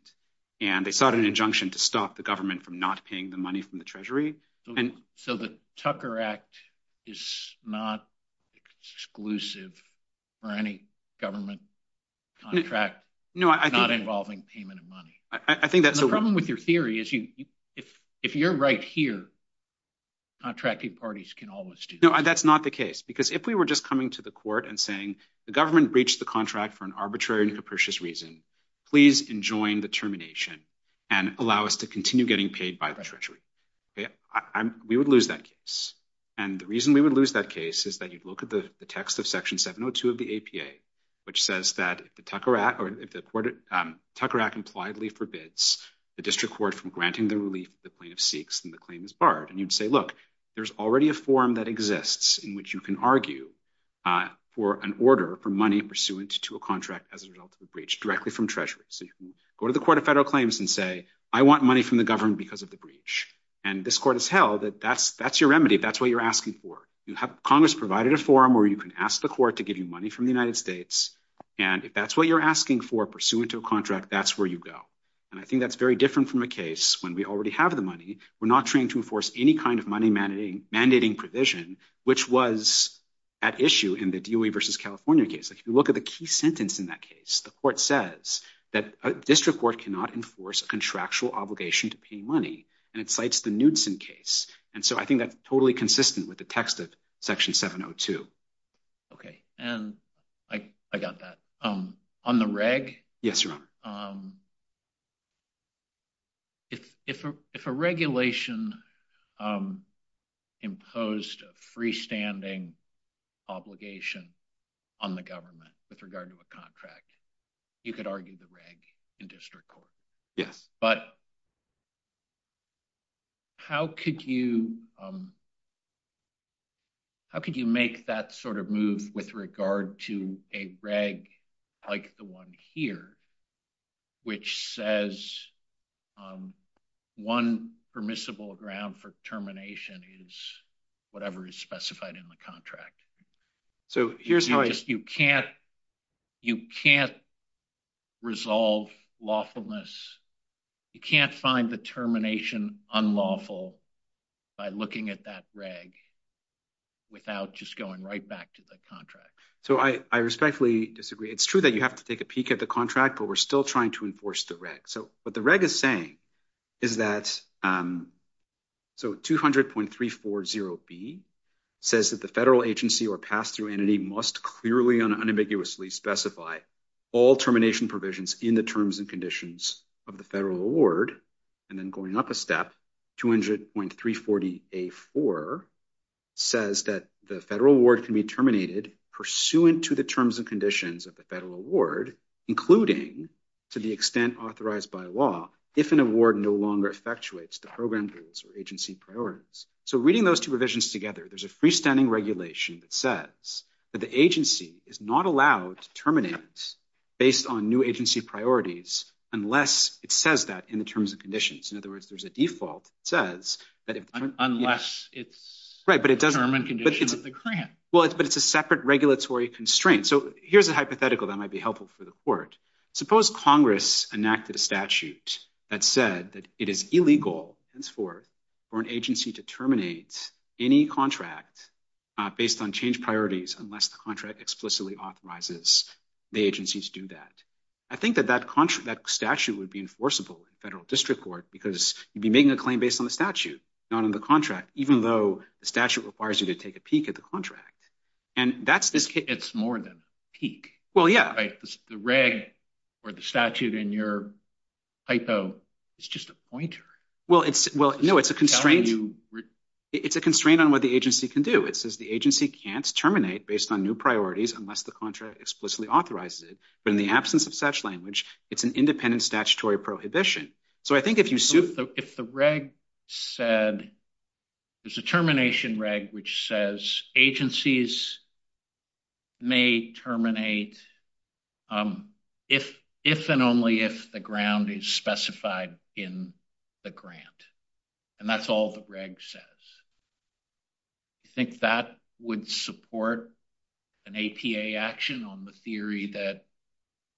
and they sought an injunction to stop the government from not paying the money from the Treasury. So the Tucker Act is not exclusive for any government contract not involving payment of money. The problem with your theory is if you're right here, contracting parties can always do that. No, that's not the case. Because if we were just coming to the court and saying the government breached the contract for an arbitrary and capricious reason, please enjoin the termination and allow us to continue getting paid by the Treasury. We would lose that case. And the reason we would lose that case is that you'd look at the text of Section 702 of the APA, which says that the Tucker Act impliedly forbids the district court from granting the relief the plaintiff seeks and the claim is borrowed. And you'd say, look, there's already a form that exists in which you can argue for an order for money pursuant to a contract as a result of a breach directly from Treasury. So you can go to the Court of Federal Claims and say, I want money from the government because of the breach. And this court has held that that's your remedy, that's what you're asking for. You have Congress provided a form where you can ask the court to give you money from the United States and if that's what you're asking for pursuant to a contract, that's where you go. And I think that's very different from a case when we already have the money. We're not trying to enforce any kind of money mandating provision, which was at issue in the DOE versus California case. If you look at the key sentence in that case, the court says that a district court cannot enforce a contractual obligation to pay money, and it cites the Knudsen case. And so I think that's totally consistent with the text of Section 702. Okay. And I got that. On the reg? Yes, Your Honor. If a regulation imposed a freestanding obligation on the government with regard to a contract, you could argue the reg in district court. Yes. But how could you make that sort of move with regard to a reg like the one here, which says one permissible ground for termination is whatever is specified in the contract? You can't resolve lawfulness You can't find the termination unlawful by looking at that reg without just going right back to the contract. So I respectfully disagree. It's true that you have to take a peek at the contract, but we're still trying to enforce the reg. So what the reg is saying is that so 200.340b says that the federal agency or pass-through entity must clearly and unambiguously specify all termination provisions in the terms and conditions of the federal award. And then going up a step, 200.340a4 says that the federal award can be terminated pursuant to the terms and conditions of the federal award, including to the extent authorized by law, if an award no longer effectuates the program rules or agency priorities. So reading those two provisions together, there's a freestanding regulation that says that the agency is not allowed to terminate any contract based on new agency priorities unless it says that in the terms and conditions. In other words, there's a default that says that unless it's term and condition of the grant. Well, but it's a separate regulatory constraint. So here's a hypothetical that might be helpful for the court. Suppose Congress enacted a statute that said that it is illegal henceforth for an agency to terminate any contract based on changed priorities unless the contract explicitly authorizes the agency to do that. I think that that statute would be enforceable in federal district court because you'd be making a claim based on the statute, not on the contract, even though the statute requires you to take a peek at the contract. And that's this case. It's more than a peek. Well, yeah. The reg or the statute in your hypo is just a pointer. Well, no, it's a constraint. It's a constraint on what the agency can do. It says the agency can't terminate based on new priorities unless the contract explicitly authorizes it. But in the absence of such language, it's an independent statutory prohibition. So I think if you... If the reg said... There's a termination reg which says agencies may terminate if and only if the ground is specified in the grant. And that's all the reg says. You think that would support an APA action on the theory that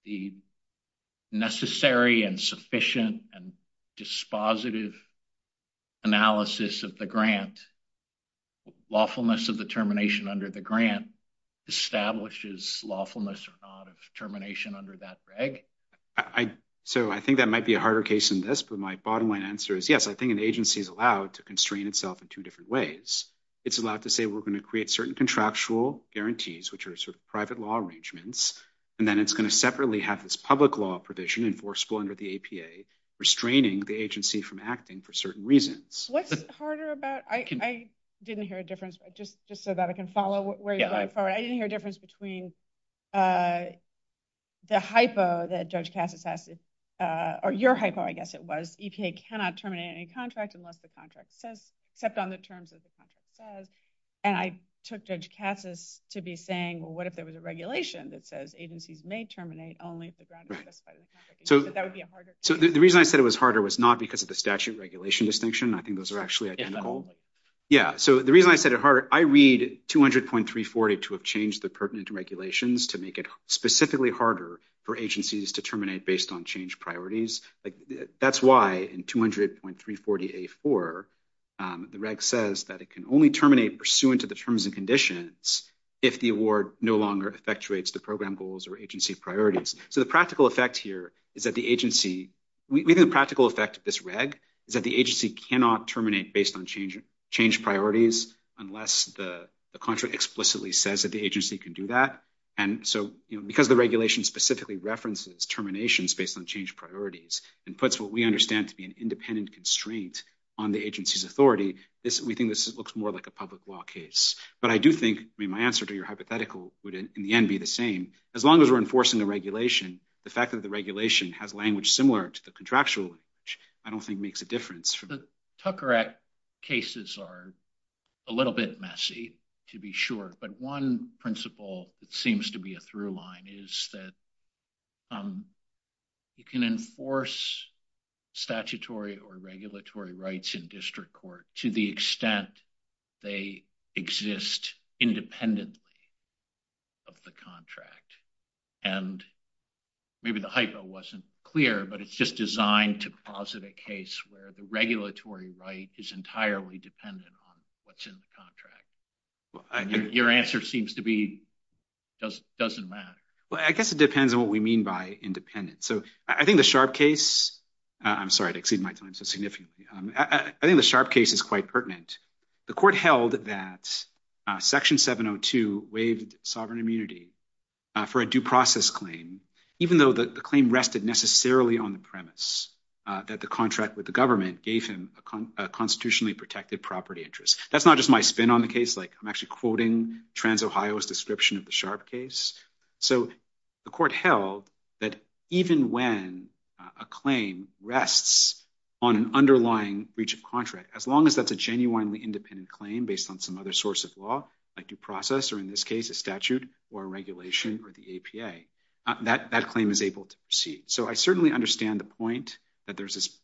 the necessary and sufficient and dispositive analysis of the grant, lawfulness of the termination under the grant, establishes lawfulness or not of termination under that reg? So I think that might be a harder case than this, but my bottom line answer is yes. I think an agency is allowed to constrain itself in two different ways. It's allowed to say we're going to create certain contractual guarantees, which are sort of private law arrangements, and then it's going to separately have this public law provision, enforceable under the APA, restraining the agency from acting for certain reasons. What's harder about... I didn't hear a difference. Just so that I can follow where you're going. I didn't hear a difference between the hypo that Judge Kass has... Or your hypo, I guess it was. EPA cannot terminate any contract unless the contract says... kept on the terms that the contract says. And I took Judge Kass's to be saying, well, what if there was a regulation that says agencies may terminate only if the grant... So the reason I said it was harder was not because of the statute regulation distinction. I think those are actually identical. Yeah. So the reason I said it harder... I read 200.340 to have changed the pertinent regulations to make it specifically harder for agencies to terminate based on change priorities. That's why in 200.340 A4, the reg says that it can only terminate pursuant to the terms and conditions if the award no longer effectuates the program goals or agency priorities. So the practical effect here is that the agency... Maybe the practical effect of this reg is that the agency cannot terminate based on change priorities unless the contract explicitly says that the agency can do that. And so because the regulation specifically references terminations based on change priorities and puts what we understand to be an independent constraint on the agency's authority, we think this looks more like a public law case. But I do think... I mean, my answer to your hypothetical would, in the end, be the same. As long as we're enforcing the regulation, the fact that the regulation has language similar to the contractual language, I don't think makes a difference. The Tucker Act cases are a little bit messy, to be sure. But one principle that seems to be a through line is that you can enforce statutory or regulatory rights in district court to the extent they exist independently of the contract. And maybe the hypo wasn't clear, but it's just designed to posit a case where the regulatory right is entirely dependent on what's in the contract. Your answer seems to be it doesn't matter. Well, I guess it depends on what we mean by independent. So I think the Sharpe case... I'm sorry to exceed my time so significantly. I think the Sharpe case is quite pertinent. The court held that Section 702 waived sovereign immunity for a due process claim even though the claim rested necessarily on the premise that the contract with the government gave him a constitutionally protected property interest. That's not just my spin on the case. I'm actually quoting TransOhio's description of the Sharpe case. So the court held that even when a claim rests on an underlying breach of contract, as long as that's a genuinely independent claim based on some other source of law, like due process, or in this case a statute or a regulation or the APA, that claim is able to proceed. So I certainly understand the point that there's this...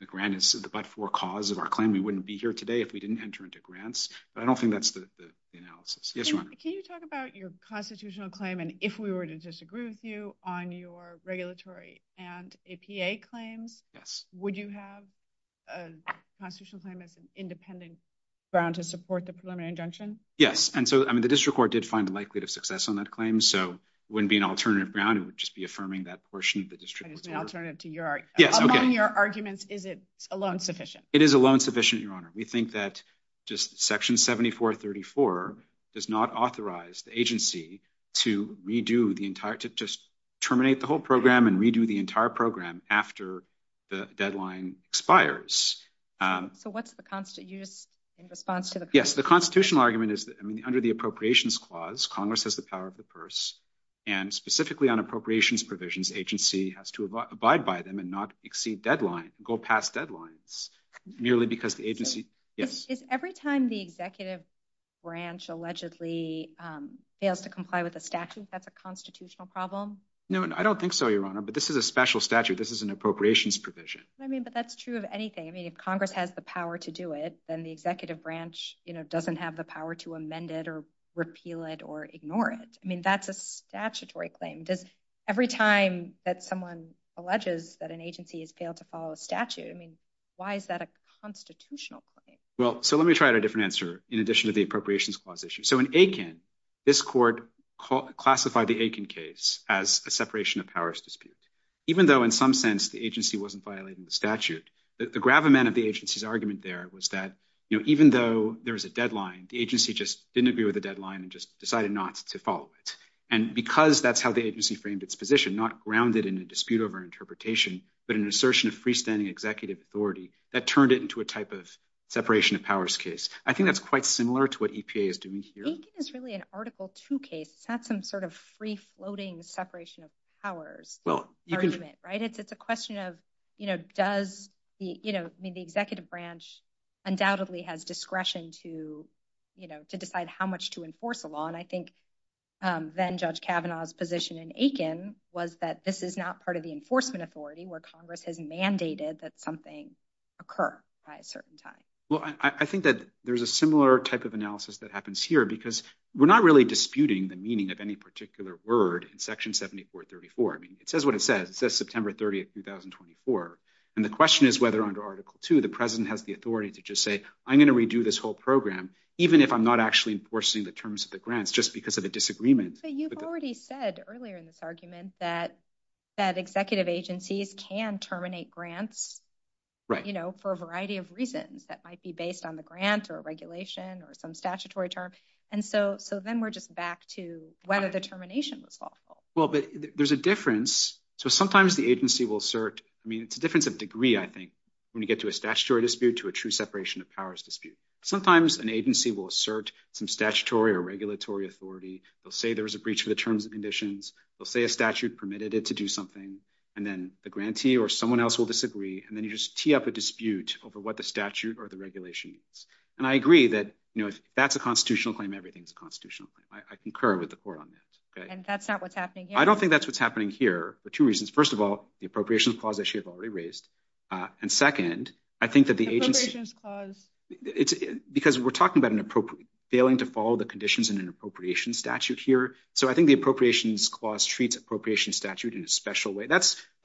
The grant is the but-for cause of our claim. We wouldn't be here today if we didn't enter into grants. But I don't think that's the analysis. Yes, Your Honor. Can you talk about your constitutional claim and if we were to disagree with you on your regulatory and APA claim? Yes. Would you have a constitutional claim as an independent ground to support the preliminary injunction? Yes. And so, I mean, the district court did find the likelihood of success on that claim so it wouldn't be an alternative ground. It would just be affirming that for Sharpe... That is an alternative to your... Among your arguments, is it alone sufficient? It is alone sufficient, Your Honor. We think that just Section 7434 does not authorize the agency to redo the entire... to just terminate the whole program and redo the entire program after the deadline expires. So what's the constitutional... Yes. The constitutional argument is that under the appropriations clause, Congress has the power of the purse, and specifically on appropriations provisions, agency has to abide by them and not exceed deadline... go past deadlines nearly because the agency... If every time the executive branch allegedly fails to comply with the statute, that's a constitutional problem? No, I don't think so, Your Honor, but this is a special statute. This is an appropriations provision. I mean, but that's true of anything. I mean, if Congress has the power to do it, then the executive branch doesn't have the power to amend it or repeal it or ignore it. I mean, that's a statutory claim. Every time that someone alleges that an agency has failed to follow a statute, I mean, why is that a constitutional claim? So let me try a different answer in addition to the appropriations clause issue. So in Aiken, this court classified the Aiken case as a separation of powers dispute. Even though in some sense the agency wasn't violating the statute, the gravamen of the agency's argument there was that even though there's a deadline, the agency just didn't agree with the deadline and just decided not to follow it. And because that's how the agency framed its position, not grounded in a dispute over interpretation, but an assertion of freestanding executive authority, that turned it into a type of separation of powers case. I think that's quite similar to what EPA is doing here. Aiken is really an Article II case. It's not some sort of free-floating separation of powers argument, right? It's a question of, you know, does the executive branch undoubtedly have discretion to decide how much to enforce the law? And I think then Judge Kavanaugh's position in Aiken was that this is not part of the enforcement authority where Congress has mandated that something occur at a certain time. Well, I think that there's a similar type of analysis that happens here because we're not really disputing the meaning of any particular word in Section 7434. I mean, it says what it says. It says September 30, 2024. And the question is whether under Article II the president has the authority to just say, I'm going to redo this whole program even if I'm not actually enforcing the terms of the grants just because of a disagreement. But you've already said earlier in this argument that executive agencies can terminate grants for a variety of reasons that might be based on the grant or a regulation or some statutory term. And so then we're just back to whether the termination was false. Well, but there's a difference. So sometimes the agency will assert, I mean, it's a difference of degree, I think, when you get to a statutory dispute to a true separation of powers dispute. Sometimes an agency will assert some statutory or regulatory authority. They'll say there's a breach of the terms and conditions. They'll say a statute permitted it to do something and then the grantee or someone else will disagree and then you just tee up a dispute over what the statute or the regulation is. And I agree that, you know, if that's a constitutional claim, everything's a constitutional claim. I concur with the court on this. And that's not what's happening here? I don't think that's what's happening here for two reasons. First of all, the appropriations clause that you've already raised. And second, I think that the agency because we're talking about failing to follow the conditions in an appropriations statute here. So I think the appropriations clause treats appropriations statute in a special way.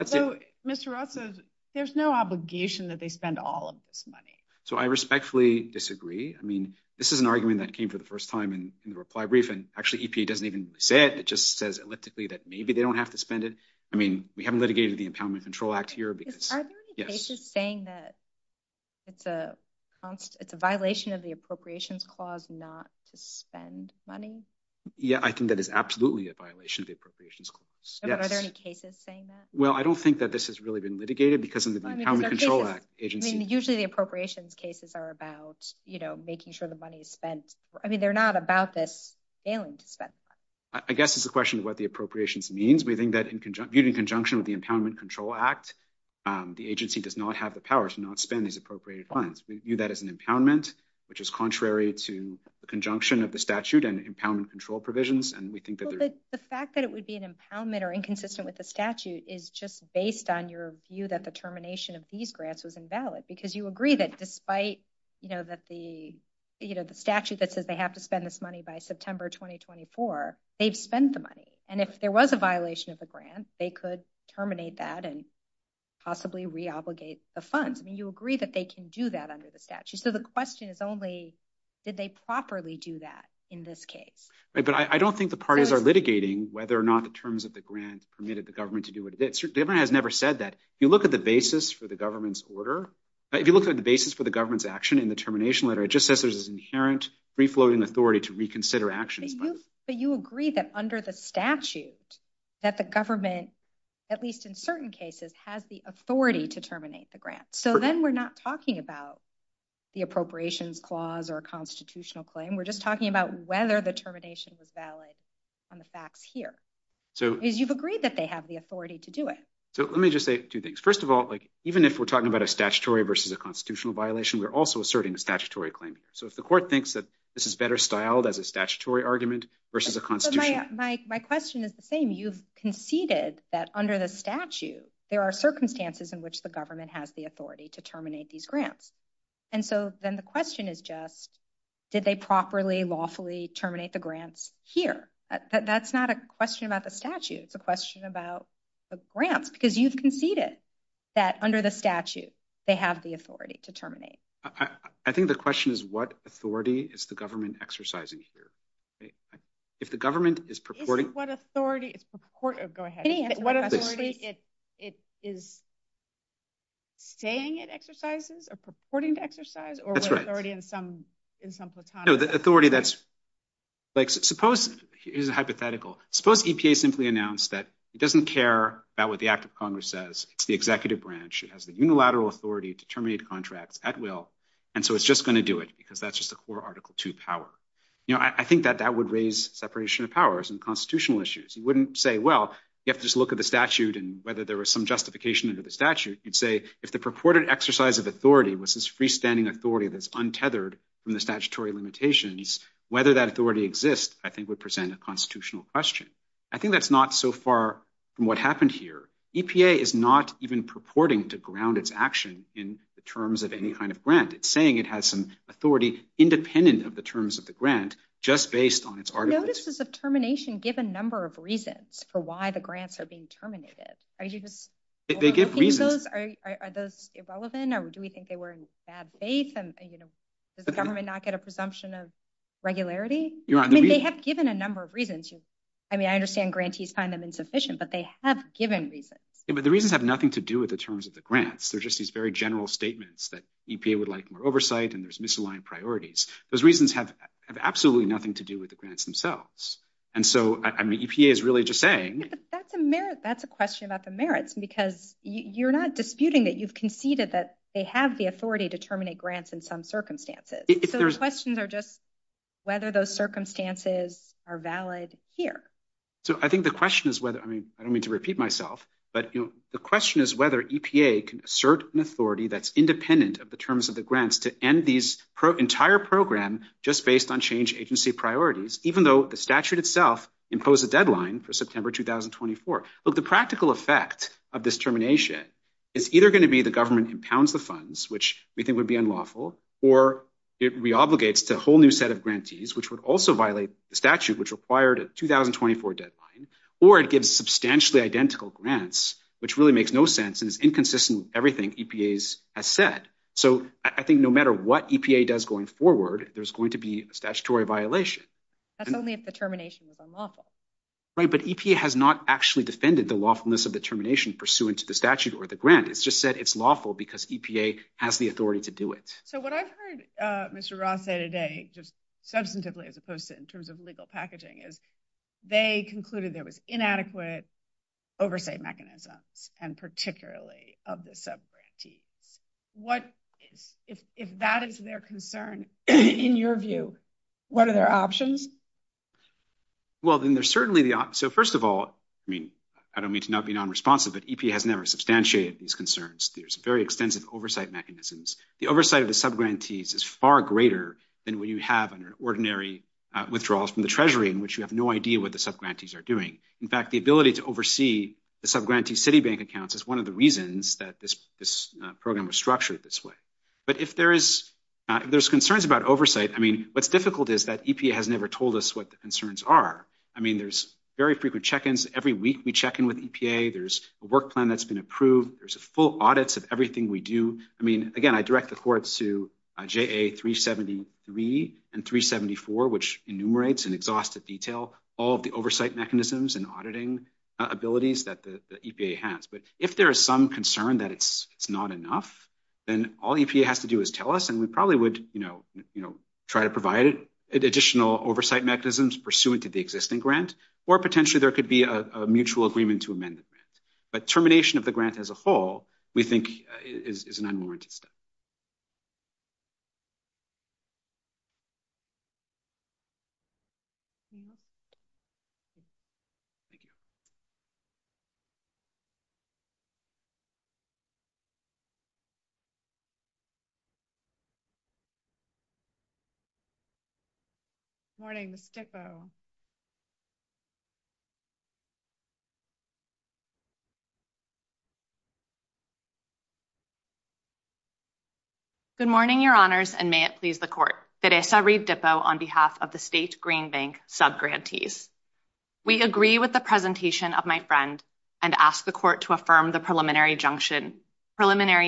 So, Mr. Rothfuss, there's no obligation that they spend all of this money. So I respectfully disagree. I mean, this is an argument that came for the first time in the reply brief and actually EPA doesn't even say it. It just says elliptically that maybe they don't have to spend it. I mean, we haven't litigated the Empowerment Control Act here. Are there any cases saying that it's a violation of the appropriations clause not to spend money? Yeah, I think that is absolutely a violation of the appropriations clause. Are there any cases saying that? Well, I don't think that this has really been litigated because of the Empowerment Control Act. Usually the appropriations cases are about making sure the money is spent. I mean, they're not about this failing to spend money. I guess it's a violation of what the appropriations means. We think that even in conjunction with the Empowerment Control Act, the agency does not have the power to not spend these appropriated funds. We view that as an impoundment, which is contrary to the conjunction of the statute and Empowerment Control provisions. The fact that it would be an impoundment or inconsistent with the statute is just based on your view that the termination of these grants was invalid because you agree that despite the statute that says they have to spend this money by September 2024, they've spent the money. And if there was a violation of the grant, they could terminate that and possibly re-obligate the funds. I mean, you agree that they can do that under the statute. So the question is only did they properly do that in this case? But I don't think the parties are litigating whether or not the terms of the grant permitted the government to do what it did. The government has never said that. If you look at the basis for the government's order, if you look at the basis for the government's action in the termination letter, it just says there's this inherent free-floating authority to reconsider actions. But you agree that under the statute that the government, at least in certain cases, has the authority to terminate the grant. So then we're not talking about the appropriations clause or constitutional claim. We're just talking about whether the termination was valid on the facts here. You've agreed that they have the authority to do it. So let me just say two things. First of all, even if we're talking about a statutory versus a constitutional violation, we're also asserting a statutory claim. So if the court thinks that this is better styled as a statutory argument versus a constitutional... My question is the same. You've conceded that under the statute there are circumstances in which the government has the authority to terminate these grants. And so then the question is just, did they properly, lawfully terminate the grants here? That's not a question about the statute. It's a question about the grants. Because you've conceded that under the statute, they have the authority to terminate. I think the question is what authority is the government exercising here? If the government is purporting... What authority is saying it exercises or purporting to exercise? No, the authority that's... It's hypothetical. Suppose EPA simply announced that it doesn't care about what the Act of Congress says. It's the unilateral authority to terminate contracts at will. And so it's just going to do it because that's just a core Article II power. I think that that would raise separation of powers and constitutional issues. You wouldn't say, well, you have to just look at the statute and whether there was some justification under the statute. You'd say, if the purported exercise of authority was this freestanding authority that's untethered from the statutory limitations, whether that authority exists I think would present a constitutional question. I think that's not so far from what happened here. EPA is not even purporting to ground its action in the terms of any kind of grant. It's saying it has some authority independent of the terms of the grant just based on its articles. No, this is a termination given number of reasons for why the grants are being terminated. Are you just... Are those irrelevant or do we think they were in a bad place? Does the government not get a presumption of regularity? They have given a number of reasons. I understand grantees find them insufficient but they have given reasons. The reasons have nothing to do with the terms of the grants. They're just these very general statements that EPA would like more oversight and there's misaligned priorities. Those reasons have absolutely nothing to do with the grants themselves. EPA is really just saying... That's a question about the merits because you're not disputing that you've conceded that they have the authority to terminate grants in some circumstances. Those questions are just whether those circumstances are valid here. I think the question is whether... I don't mean to repeat myself but the question is whether EPA can assert an authority that's independent of the terms of the grants to end these entire program just based on change agency priorities even though the statute itself imposed a deadline for September 2024. The practical effect of this termination is either going to be the government impounds the funds which we think would be unlawful or it re-obligates to a whole new set of grantees which would also violate the statute which required a 2024 deadline or it gives substantially identical grants which really makes no sense and is inconsistent with everything EPA has said. I think no matter what EPA does going forward, there's going to be a statutory violation. That's only if the termination is unlawful. Right, but EPA has not actually defended the lawfulness of the termination pursuant to the statute or the grant. It's just said it's lawful because EPA has the authority to do it. What I've heard Mr. Roth say today just substantively as opposed to in terms of legal packaging is they concluded there was inadequate oversight mechanism and particularly of the sub-grantees. If that is their concern in your view, what are their options? Well, then there's certainly the option. So first of all I don't mean to not be non-responsive but EPA has never substantiated these concerns. There's very extensive oversight mechanisms. The oversight of the sub-grantees is far greater than when you have an ordinary withdrawal from the treasury in which you have no idea what the sub-grantees are doing. In fact, the ability to oversee the sub-grantee city bank accounts is one of the reasons that this program was structured this way. But if there's concerns about oversight, I mean, what's difficult is that EPA has never told us what the concerns are. I mean, there's very frequent check-ins every week we check in with EPA. There's a work plan that's been approved. There's full audits of everything we do. I mean, EPA 373 and 374 which enumerates in exhaustive detail all of the oversight mechanisms and auditing abilities that the EPA has. But if there is some concern that it's not enough, then all EPA has to do is tell us and we probably would try to provide additional oversight mechanisms pursuant to the existing grant or potentially there could be a mutual agreement to amend it. But termination of the grant as a whole we think is an unwarranted step. Morning. Good morning, Your Honors, and may it please the Court. Teresa Rive-Dippo on behalf of the State Green Bank subgrantees. We agree with the presentation of my friend and ask the Court to affirm the preliminary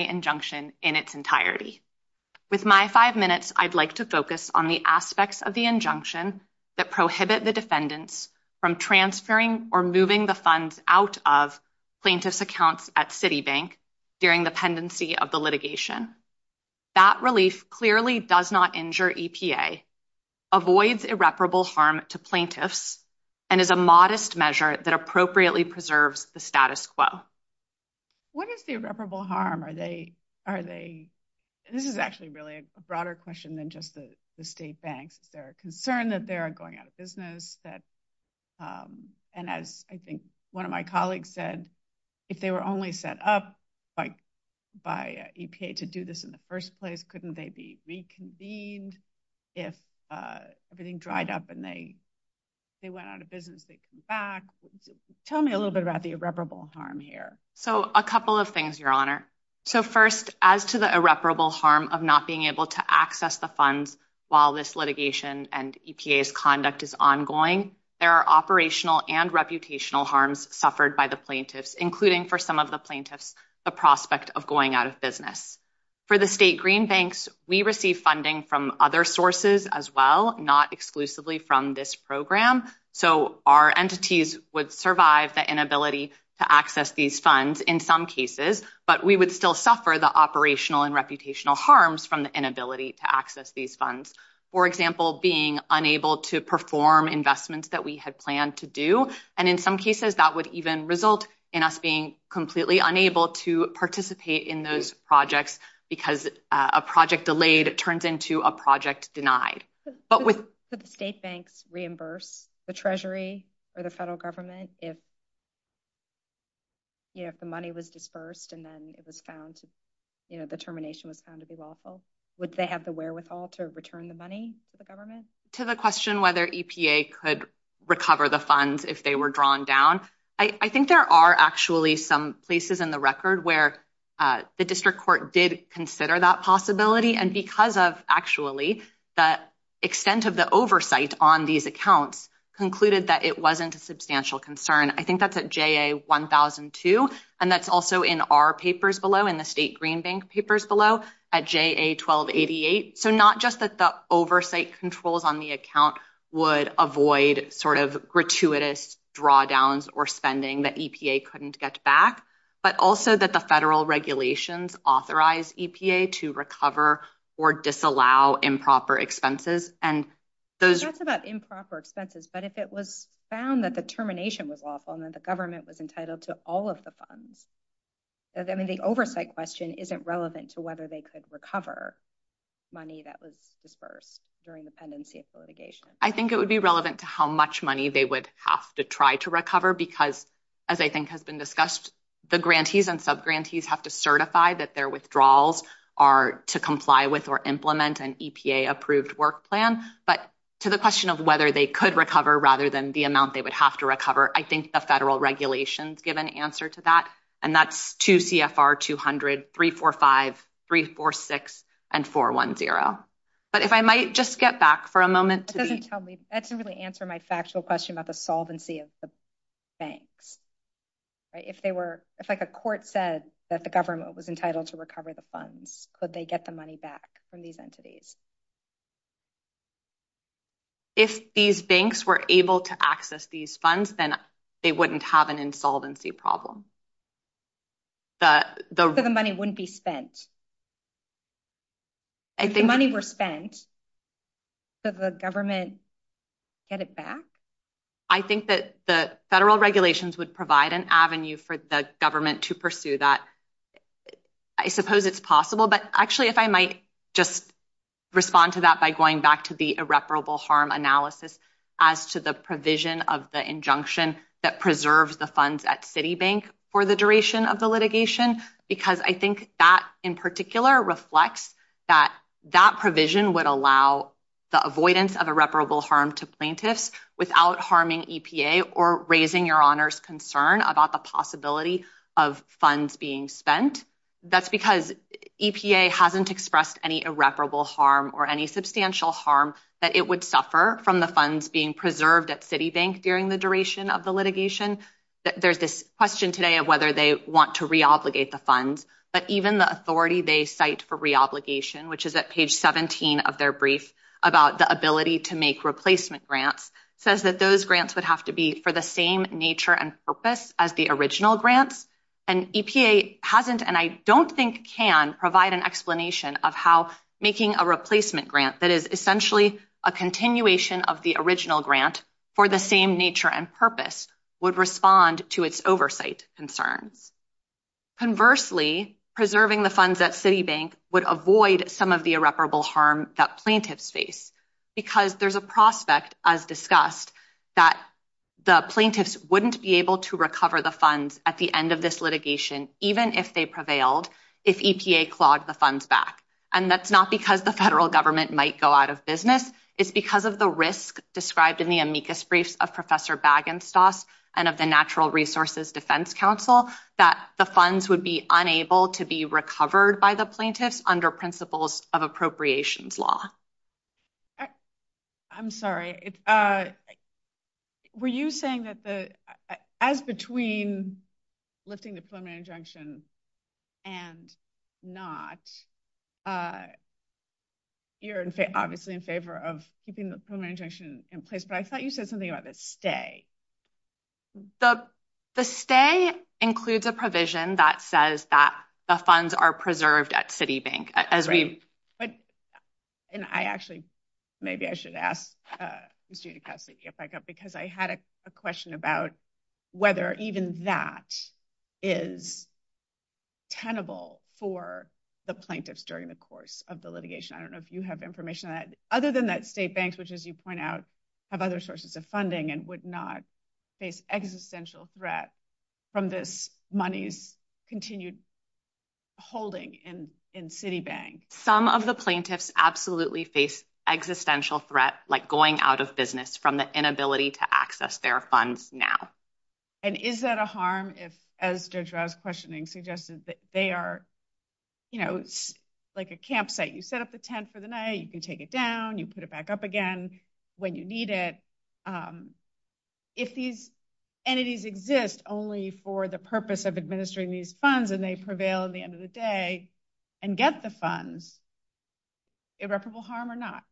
injunction in its entirety. With my five minutes, I'd like to focus on the aspects of the injunction that prohibit the defendants from transferring or moving the funds out of plaintiff's accounts at Citibank during the pendency of the litigation. That release clearly does not injure EPA, avoids irreparable harm to plaintiffs, and is a modest measure that appropriately preserves the status quo. What is the irreparable harm? This is actually really a broader question than just the state banks. They're concerned that they're going out of business, and as I think one of my colleagues said, if they were only set up by EPA to do this in the first place, couldn't they be reconvened if everything dried up and they went out of business and came back? Tell me a little bit about the irreparable harm here. A couple of things, Your Honor. First, as to the irreparable harm of not being able to access the funds while this litigation and EPA's conduct is ongoing, there are operational and reputational harms suffered by the plaintiffs, including for some of the plaintiffs, the prospect of going out of business. For the state green banks, we receive funding from other sources as well, not exclusively from this program, so our entities would survive the inability to access these funds in some cases, but we would still suffer the operational and reputational harms from the inability to access these funds. For example, being unable to perform investments that we had planned to do, and in some cases that would even result in us being completely unable to participate in those projects because a project delayed turns into a project denied. Could the state banks reimburse the Treasury or the federal government if the money was disbursed and then the termination was found to be lawful? Would they have the wherewithal to return the money to the government? To the question whether EPA could recover the funds if they were drawn down, I think there are actually some places in the record where the district court did consider that possibility, and because of actually the extent of the oversight on these accounts concluded that it wasn't a substantial concern. I think that's at JA 1002, and that's also in our papers below, in the state green banks papers below, at JA 1288, so not just that the oversight controls on the account would avoid sort of gratuitous drawdowns or spending that EPA couldn't get back, but also that the federal regulations authorize EPA to recover or disallow improper expenses. It's not just about improper expenses, but if it was found that the termination was lawful and that the government was entitled to all of the funds. The oversight question isn't relevant to whether they could recover money that was disbursed during the pendency of litigation. I think it would be relevant to how much money they would have to try to recover because, as I think has been discussed, the grantees and subgrantees have to certify that their withdrawals are to comply with or implement an EPA approved work plan, but to the question of whether they could recover rather than the amount they would have to recover, I think the federal regulations give an answer to that, and that's 2 CFR 200, 345, 346, and 410. But if I might just get back for a moment. That doesn't really answer my factual question about the solvency of the banks. If they were, if a court said that the government was entitled to recover the funds, could they get the money back from these entities? If these banks were able to access these funds, then they wouldn't have an insolvency problem. The money wouldn't be spent. If the money were spent, could the government get it back? I think that the federal regulations would provide an avenue for the government to pursue that. I suppose it's possible, but actually, if I might just respond to that by going back to the irreparable harm analysis as to the provision of the injunction that preserves the funds at Citibank for the duration of the litigation, because I think that in particular reflects that that provision would allow the avoidance of irreparable harm to plaintiffs without harming EPA or raising your honors concern about the possibility of funds being spent. That's because EPA hasn't expressed any irreparable harm or any substantial harm that it would suffer from the funds being preserved at Citibank during the duration of the litigation. There's this question today of whether they want to re-obligate the funds, but even the authority they cite for re-obligation, which is at page 17 of their brief about the ability to make replacement grants, says that those grants would have to be for the same nature and purpose as the original grants, and EPA hasn't, and I don't think can, provide an explanation of how making a replacement grant that is essentially a continuation of the original grant for the same nature and purpose would respond to its oversight concern. Conversely, preserving the funds at Citibank would avoid some of the irreparable harm that plaintiffs face because there's a prospect as discussed that the plaintiffs wouldn't be able to recover the funds at the end of this litigation even if they prevailed if EPA clawed the funds back. And that's not because the federal government might go out of business, it's because of the risk described in the amicus briefs of Professor Bagenstos and of the Natural Resources Defense Council that the funds would be unable to be recovered by the plaintiffs under principles of appropriations law. I'm sorry. Were you saying that as between lifting the preliminary injunction and not, you're obviously in favor of keeping the preliminary injunction in place, but I thought you said something about the stay. The stay includes a provision that says that the funds are preserved at Citibank. And I actually, maybe I should ask because I had a question about whether even that is tenable for the plaintiffs during the course of the litigation. I don't know if you have information on that. Other than that, state banks, which as you point out, have other sources of funding and would not face existential threat from this money's continued holding in Citibank. Some of the plaintiffs absolutely face existential threat, like going out of business from the inability to access their funds now. And is that a harm if, as Deirdre's questioning suggested, they are, like a campsite, you set up a tent for the night, you take it down, you put it back up again when you need it. If these entities exist only for the purpose of administering these funds and they prevail at the end of the day and get the funds, irreparable harm or not?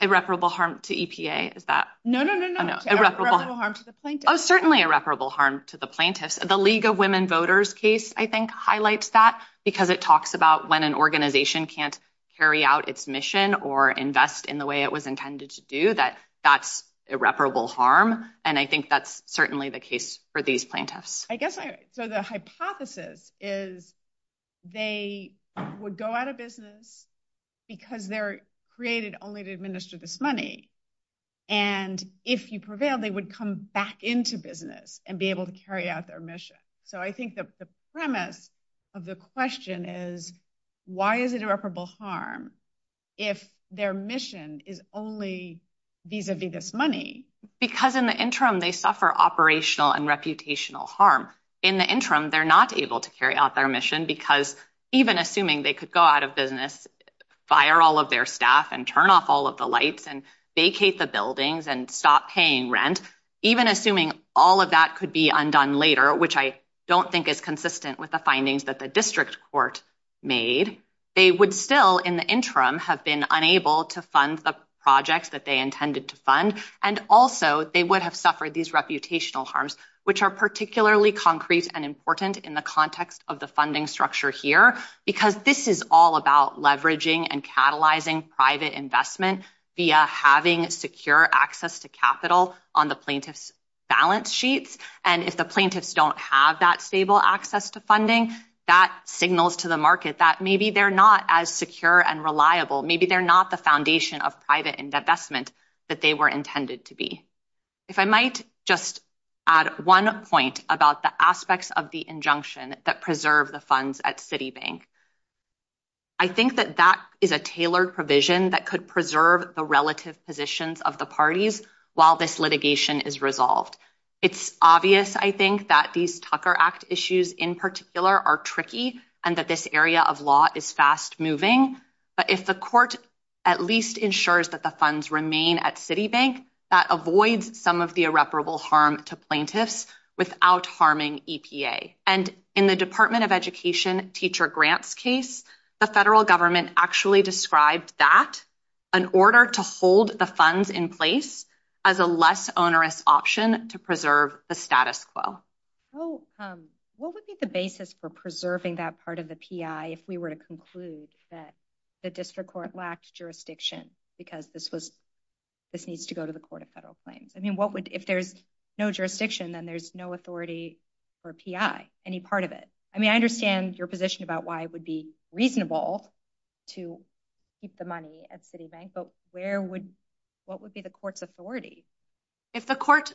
Irreparable harm to EPA, is that? No, no, no. Certainly irreparable harm to the plaintiffs. The League of Women Voters case, I think, highlights that because it talks about when an organization can't carry out its mission or invest in the way it was intended to do, that's irreparable harm. And I think that's certainly the case for these plaintiffs. So the hypothesis is they would go out of business because they're created only to administer this money, and if you prevail, they would come back into business and be able to carry out their mission. So I think that the premise of the question is why is it irreparable harm if their mission is only vis-a-vis this money? Because in the interim, they suffer operational and reputational harm. In the interim, they're not able to carry out their mission because even assuming they could go out of business, fire all of their staff and turn off all of the lights and vacate the buildings and stop paying rent, even assuming all of that could be undone later, which I don't think is consistent with the findings that the district court made, they would still in the interim have been unable to fund the projects that they intended to fund, and also they would have suffered these reputational harms, which are particularly concrete and important in the context of the funding structure here, because this is all about leveraging and catalyzing private investment via having secure access to capital on the plaintiff's balance sheets, and if the plaintiffs don't have that stable access to funding, that signals to the market that maybe they're not as secure and reliable, maybe they're not the foundation of private investment that they were intended to be. If I might just add one point about the aspects of the injunction that preserve the funds at Citibank. I think that that is a tailored provision that could preserve the relative positions of the parties while this litigation is resolved. It's obvious, I think, that these Tucker Act issues in particular are tricky, and that this area of law is fast moving, but if the court at least ensures that the funds remain at Citibank, that avoids some of the irreparable harm to plaintiffs without harming EPA. And in the Department of Education teacher grants case, the federal government actually described that in order to hold the funds in place as a less onerous option to preserve the status quo. What would be the basis for preserving that part of the PI if we were to conclude that the district court lacks jurisdiction because this needs to go to the court of federal claims? If there's no jurisdiction, then there's no authority for PI, any part of it. I understand your position about why it would be reasonable to keep the money at Citibank, but what would be the court's authority? If the court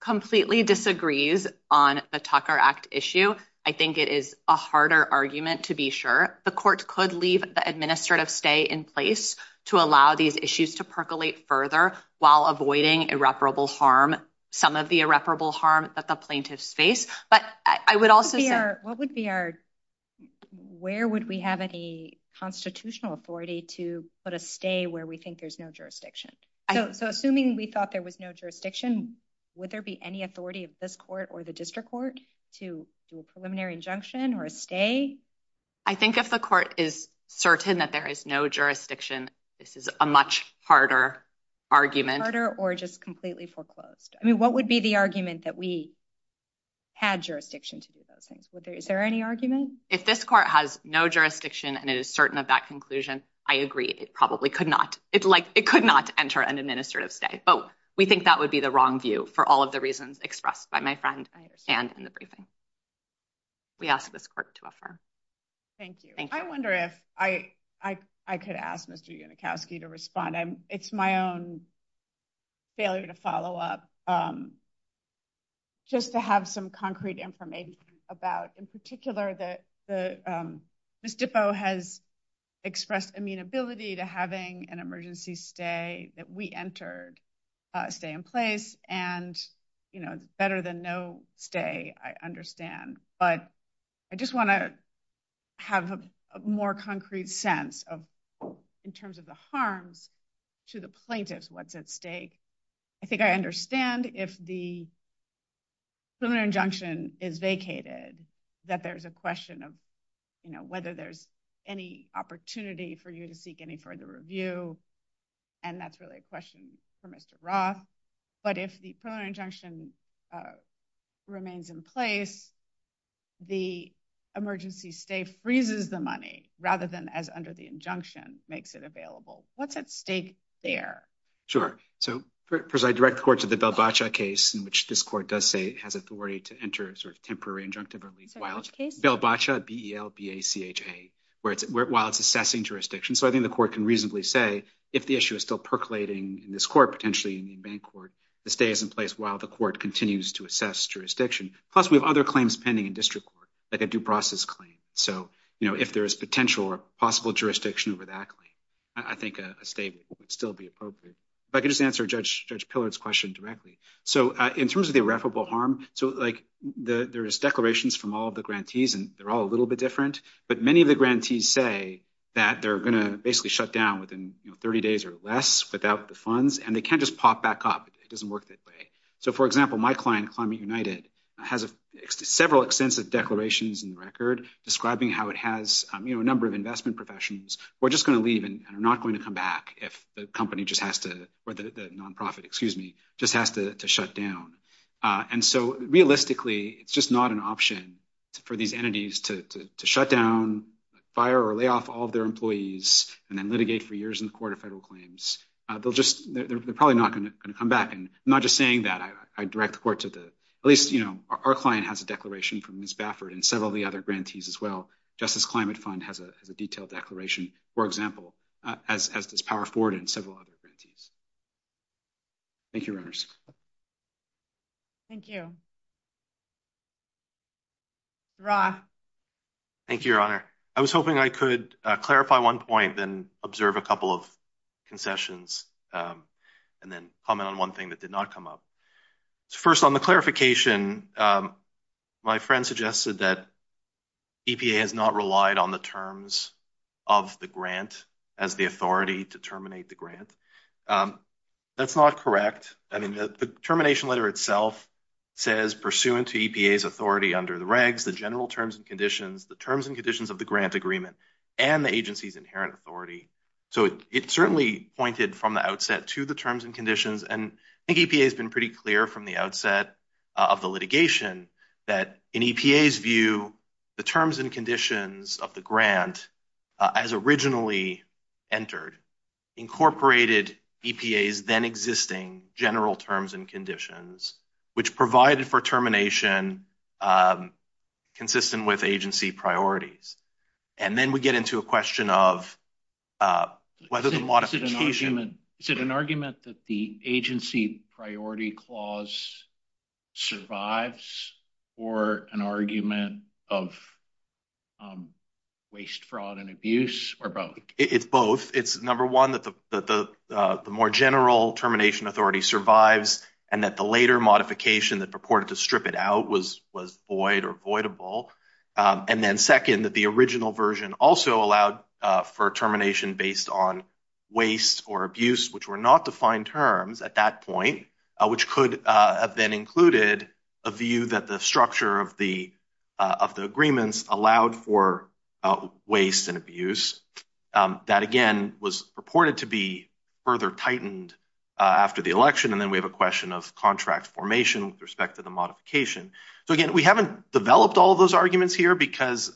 completely disagrees on the Tucker Act issue, I think it is a harder argument to be sure. The court could leave the administrative stay in place to allow these issues to percolate further while avoiding irreparable harm, some of the irreparable harm that the plaintiffs face. Where would we have any constitutional authority to put a stay where we think there's no jurisdiction? Assuming we thought there was no jurisdiction, would there be any authority of this court or the district court to do a preliminary injunction or a stay? I think if the court is certain that there is no jurisdiction, this is a much harder argument. Harder or just completely foreclosed? What would be the argument that we have had jurisdiction to do those things? Is there any argument? If this court has no jurisdiction and is certain of that conclusion, I agree. It probably could not enter an administrative stay. We think that would be the wrong view for all of the reasons expressed by my friend and in the briefing. We ask this court to affirm. Thank you. I wonder if I could ask Mr. Unikowski to respond. It's my own failure to follow up. Just to have some concrete information about in particular that Ms. Dippo has expressed amenability to having an emergency stay that we entered stay in place and better than no stay, I understand, but I just want to have a more concrete sense of in terms of the harm to the plaintiff what's at stake. I think I understand if the criminal injunction is vacated that there's a question of whether there's any opportunity for you to seek any further review and that's really a question for Mr. Roth, but if the criminal injunction remains in place, the emergency stay freezes the money rather than as under the injunction makes it available. What's at stake there? Sure. First, I direct the court to the Belbacha case in which this court does say it has authority to enter a temporary injunctive while it's Belbacha, B-E-L-B-A-C-H-A, while it's assessing jurisdiction. I think the court can reasonably say if the issue is still percolating in this court, potentially in the main court, the stay is in place while the court continues to assess jurisdiction. Plus, we have other claims pending in district court like a due process claim. If there's potential or possible jurisdiction over that claim, I think a stay would still be appropriate. If I could just answer Judge Pillard's question directly. In terms of the irreparable harm, there's declarations from all the grantees and they're all a little bit different, but many of the grantees say that they're going to basically shut down within 30 days or less without the funds and they can't just pop back up. It doesn't work that way. For example, my client, Climate United, has several extensive declarations in the record describing how it has a number of investment professionals who are just going to leave and are not going to come back if the company just has to, or the nonprofit, excuse me, just has to shut down. Realistically, it's just not an option for these entities to shut down, fire or lay off all their employees, and then litigate for years in the court of federal claims. They're probably not going to come back. I'm not just saying that. I direct the court to the at least, our client has a declaration from Ms. Baffert and several of the other grantees as well. Justice Climate Fund has a detailed declaration, for example, as does Power Forward and several other grantees. Thank you, Reyners. Thank you. Roth? Thank you, Your Honor. I was hoping I could clarify one point and observe a couple of concessions and then comment on one thing that did not come up. First, on the clarification, my friend suggested that EPA has not relied on the terms of the grant as the authority to terminate the grant. That's not correct. The termination letter itself says, pursuant to EPA's authority under the regs, the general terms and conditions, the terms and conditions of the grant agreement, and the agency's inherent authority. It certainly pointed from the outset to the terms and conditions. I think EPA has been pretty clear from the outset of the litigation that in EPA's view, the terms and conditions of the grant as originally entered incorporated EPA's then existing general terms and conditions which provided for termination consistent with agency priorities. Then we get into a question of whether the modification... Is it an argument that the agency priority clause survives or an argument of waste, fraud, and abuse or both? It's both. It's number one that the more general termination authority survives and that the later modification that purported to strip it out was void or voidable. Then second, the original version also allowed for termination based on waste or abuse, which were not defined terms at that point, which could have then included a view that the structure of the agreements allowed for waste and abuse that, again, was purported to be further tightened after the election. Then we have a question of contract formation with respect to the modification. Again, we haven't developed all those arguments here because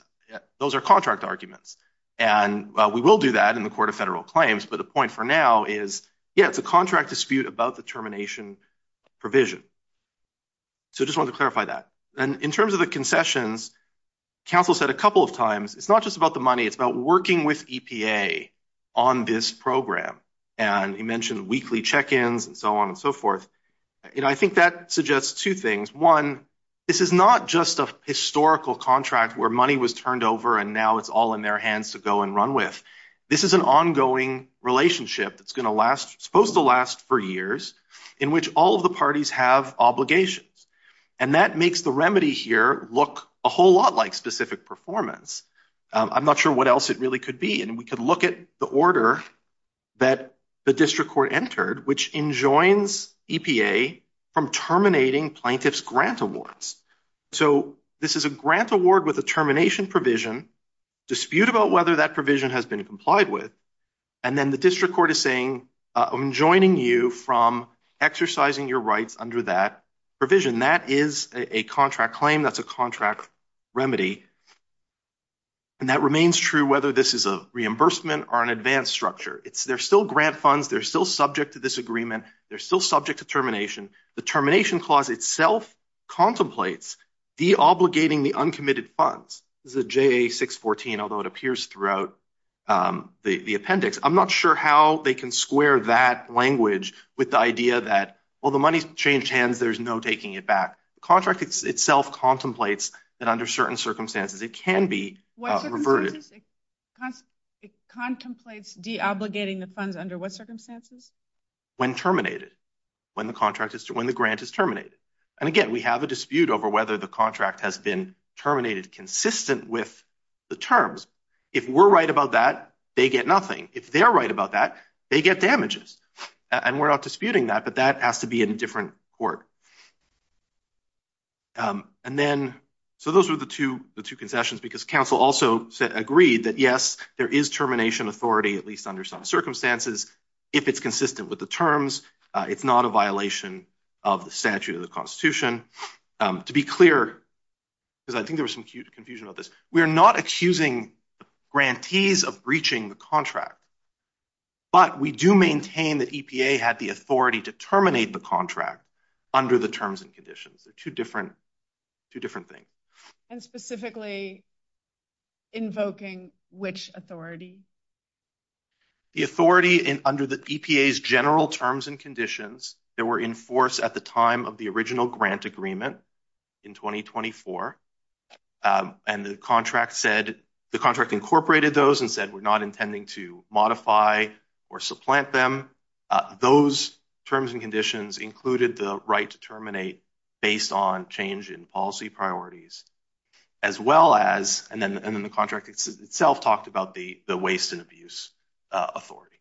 those are contract arguments. We will do that in the Court of Federal Claims, but the point for now is, yeah, it's a contract dispute about the termination provision. I just wanted to clarify that. In terms of the concessions, counsel said a couple of times it's not just about the money. It's about working with EPA on this program. You mentioned weekly check-ins and so on and so forth. I think that suggests two things. One, this is not just a historical contract where money was turned over and now it's all in their hands to go and run with. This is an ongoing relationship that's supposed to last for years in which all of the parties have obligations. That makes the remedy here look a whole lot like specific performance. I'm not sure what else it really could be. We could look at the order that the district court entered, which enjoins EPA from terminating plaintiff's grant awards. This is a grant award with a termination provision, dispute about whether that provision has been complied with. Then the district court is saying I'm enjoining you from exercising your rights under that provision. That is a contract claim. That's a contract remedy. That remains true whether this is a reimbursement or an advanced structure. They're still grant funds. They're still subject to disagreement. They're still subject to termination. The termination clause itself contemplates deobligating the uncommitted funds. This is a JA614, although it appears throughout the appendix. I'm not sure how they can square that language with the idea that, well, the money changed hands. There's no taking it back. The contract itself contemplates that under certain circumstances it can be reverted. It contemplates deobligating the funds under what circumstances? When terminated. When the grant is terminated. Again, we have a dispute over whether the contract has been terminated consistent with the terms. If we're right about that, they get nothing. If they're right about that, they get damages. We're not disputing that, but that has to be in a different court. Those are the two concessions because counsel also agreed that, yes, there is termination authority, at least under some circumstances, if it's consistent with the terms. It's not a violation of the statute of constitution. To be clear, because I think there was some confusion about this, we're not accusing grantees of breaching the contract, but we do maintain that EPA had the authority to terminate the contract under the terms and conditions. Two different things. And specifically invoking which authority? The authority under the EPA's general terms and conditions that were enforced at the time of the original grant agreement in 2024. And the contract said, the contract incorporated those and said, we're not intending to modify or supplant them. Those terms and conditions included the right to terminate based on change in policy priorities, as well as, and then the contract itself talked about the waste and abuse authority.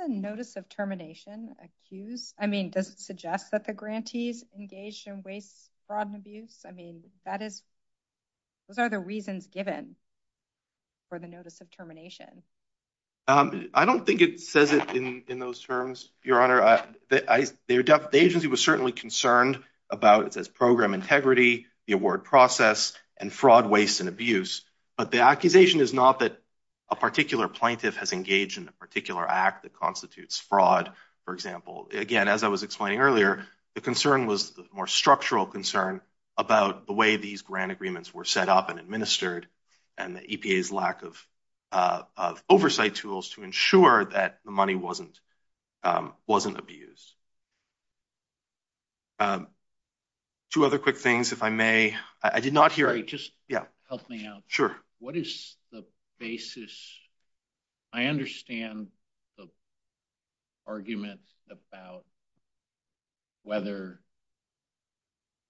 Is the notice of termination accused? I mean, does it suggest that the grantees engaged in waste, fraud, and abuse? I mean, those are the reasons given for the notice of termination. I don't think it says it in those terms, Your Honor. The agency was certainly concerned about the program integrity, the award process, and fraud, waste, and abuse. But the accusation is not that a particular act that constitutes fraud, for example. Again, as I was explaining earlier, the concern was a more structural concern about the way these grant agreements were set up and administered and the EPA's lack of oversight tools to ensure that the money wasn't abused. Two other quick things, if I may. I did not hear... Just help me out. Sure. What is the basis? I understand the argument about whether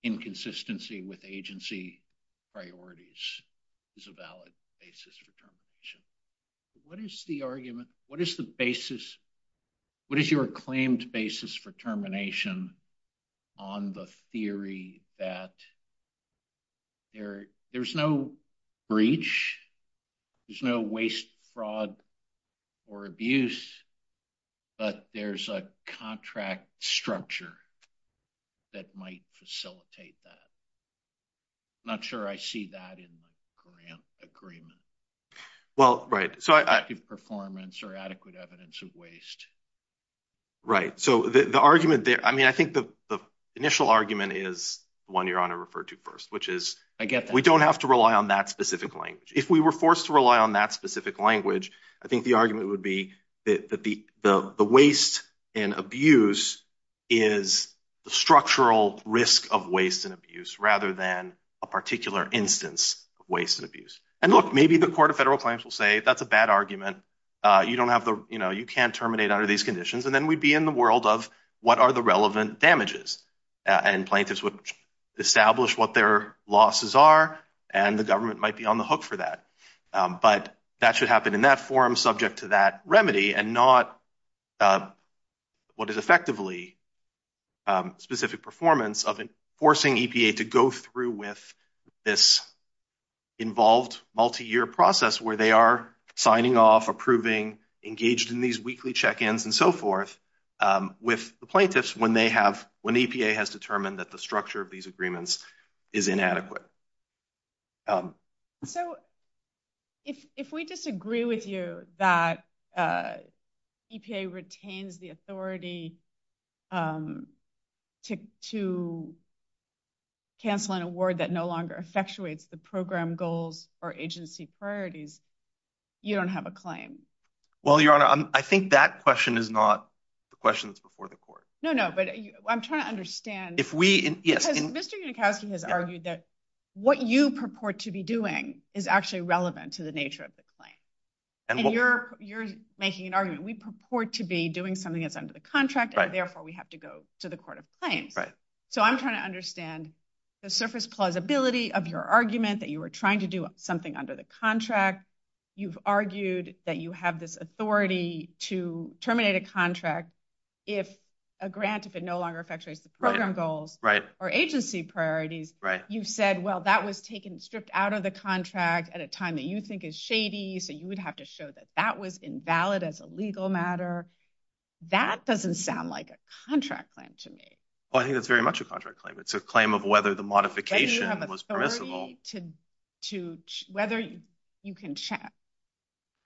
inconsistency with agency priorities is a valid basis for termination. What is the argument... What is the basis... What is your claimed basis for termination on the theory that there's no breach, there's no waste, fraud, or abuse, but there's a contract structure that might facilitate that? I'm not sure I see that in the grant agreement. Effective performance or adequate evidence of waste. Right. So the argument there... I mean, I think the initial argument is the one Your Honor referred to first, which is we don't have to rely on that specific language. If we were forced to rely on that specific language, I think the argument would be that the waste and abuse is the structural risk of waste and abuse rather than a particular instance of waste and abuse. And look, maybe the Court of Federal Claims will say that's a bad argument. You can't terminate under these conditions. And then we'd be in the world of what are the relevant damages? And plaintiffs would establish what their losses are, and the government might be on the hook for that. But that should happen in that form subject to that remedy and not what is effectively specific performance of forcing EPA to go through with this involved multi-year process where they are signing off, approving, engaged in these weekly check-ins, and so forth with the plaintiffs when EPA has determined that the structure of these agreements is inadequate. So if we disagree with you that EPA retains the authority to cancel an award that no longer effectuates the program goals or agency priorities, you don't have a claim. Well, Your Honor, I think that question is not the questions before the Court. No, no, but I'm trying to understand if we... Mr. Yudhikashi has argued that what you purport to be doing is actually relevant to the nature of this claim. And you're making an argument we purport to be doing something that's under the contract, and therefore we have to go to the Court of Claims. So I'm trying to understand the surface plausibility of your argument that you were trying to do something under the contract. You've argued that you have this authority to terminate a contract if a grant, if it no longer effectuates the program goals or agency priorities. You said, well, that was taken stripped out of the contract at a time that you think is shady, so you would have to show that that was invalid as a legal matter. That doesn't sound like a contract claim to me. Well, I think that's very much a contract claim. It's a claim of whether the modification was permissible. Whether you can check.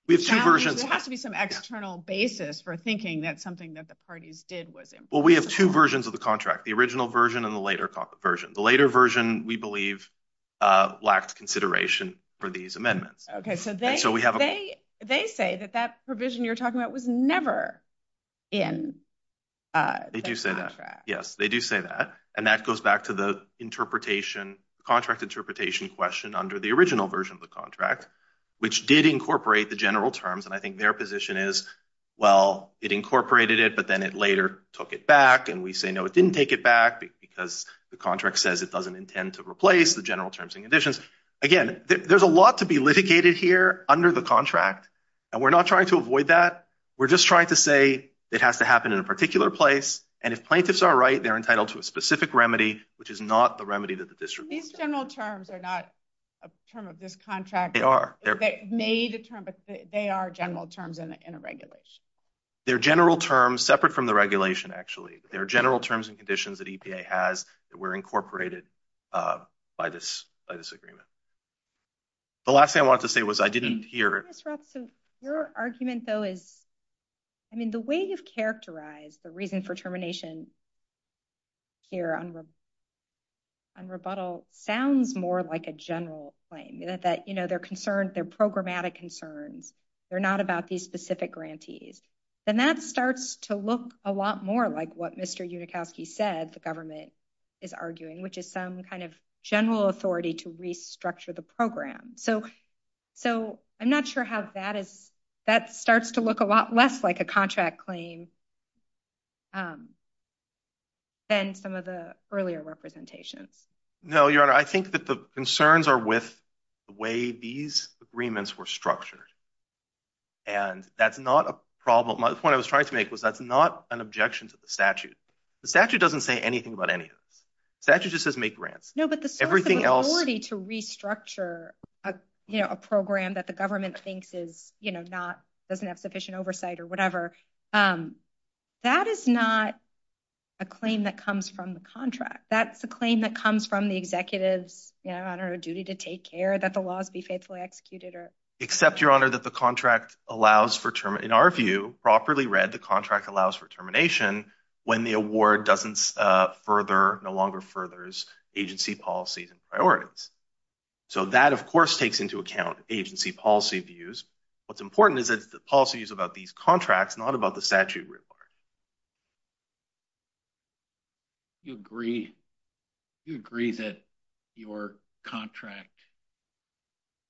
We have two versions. There has to be some external basis for thinking that something that the parties did was improper. Well, we have two versions of the contract. The original version and the later version. The later version, we believe, lacked consideration for these amendments. They say that that provision you're talking about was never in the contract. They do say that. And that goes back to the contract interpretation question under the original version of the contract, which did incorporate the general terms, and I think their position is, well, it incorporated it, but then it later took it back, and we say, no, it didn't take it back because the contract says it doesn't intend to replace the general terms and conditions. Again, there's a lot to be litigated here under the contract, and we're not trying to avoid that. We're just trying to say it has to happen in a particular place, and if plaintiffs are right, they're entitled to a specific remedy, which is not a remedy that the district... These general terms are not a term of this contract. They are. They made a term, but they are general terms in a regulation. They're general terms, separate from the regulation, actually. They're general terms and conditions that EPA has that were incorporated by this agreement. The last thing I wanted to say was I didn't hear... Your argument, though, is... I mean, the way you've characterized the reason for termination here on rebuttal sounds more like a general claim, that they're concerned... They're programmatic concerns. They're not about these specific grantees. Then that starts to look a lot more like what Mr. Unikowski said the government is arguing, which is some kind of general authority to restructure the program. I'm not sure how that is... That starts to look a lot less like a contract claim than some of the earlier representations. No, Your Honor. I think that the concerns are with the way these agreements were structured. That's not a problem. The point I was trying to make was that's not an objection to the statute. The statute doesn't say anything about anything. The statute just says make grants. No, but the sort of authority to restructure a program that the government thinks doesn't have sufficient oversight or whatever, that is not a claim that comes from the contract. That's the claim that comes from the executive's duty to take care that the laws be faithfully executed. Except, Your Honor, that the contract allows for term... In our view, properly read, the contract allows for termination when the award doesn't further, no longer furthers agency policies and priorities. That, of course, takes into account agency policy views. What's important is that the policy is about these contracts, not about the statute required. Do you agree that your contract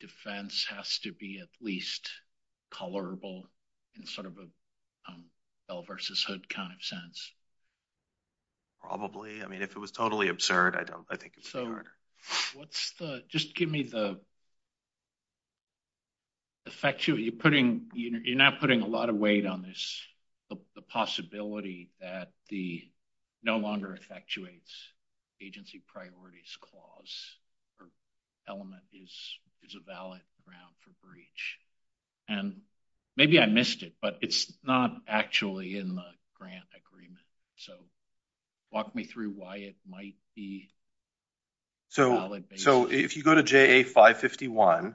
defense has to be at least tolerable in sort of a Bell versus Hood kind of sense? Probably. I mean, if it was totally absurd, I don't... I think... Just give me the effect you're putting... You're not putting a lot of weight on this, the possibility that the no longer effectuates agency priorities clause or element is a valid ground for breach. Maybe I missed it, but it's not actually in the grant agreement. Walk me through why it might be valid. If you go to JA 551,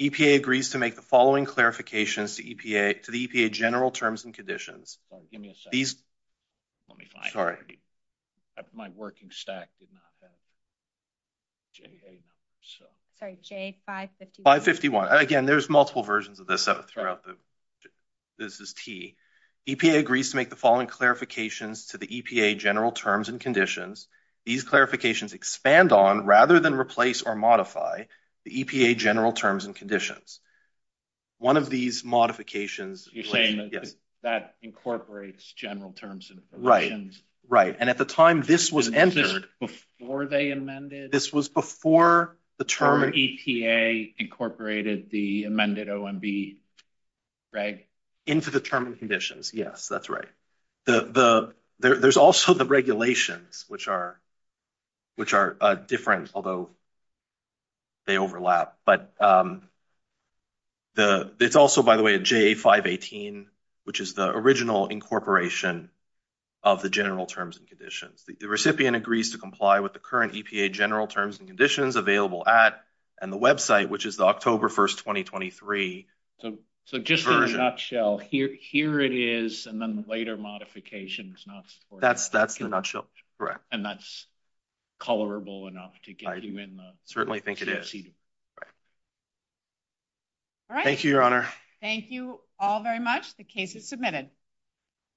EPA agrees to make the following clarifications to EPA to the EPA general terms and conditions. Give me a second. Sorry. My working stack did not have JA. Sorry, JA 551. Again, there's multiple versions of this. This is T. EPA agrees to make the following clarifications to the EPA general terms and conditions. These clarifications expand on, rather than replace or modify, the EPA general terms and conditions. One of these modifications... You're saying that incorporates general terms and conditions. Right, and at the time this was entered... This was before they amended? This was before the term... EPA incorporated the amended OMB, right? Into the term and conditions, yes, that's right. There's also the regulations, which are different, although they overlap. There's also, by the way, a JA 518, which is the original incorporation of the general terms and conditions. The recipient agrees to comply with the current EPA general terms and conditions available at and the website, which is the October 1st, 2023 version. Just in a nutshell, here it is, and then the later modification is not supported. That's in a nutshell, correct. And that's tolerable enough to get you in. I certainly think it is. Thank you, Your Honor. Thank you all very much. The case is submitted.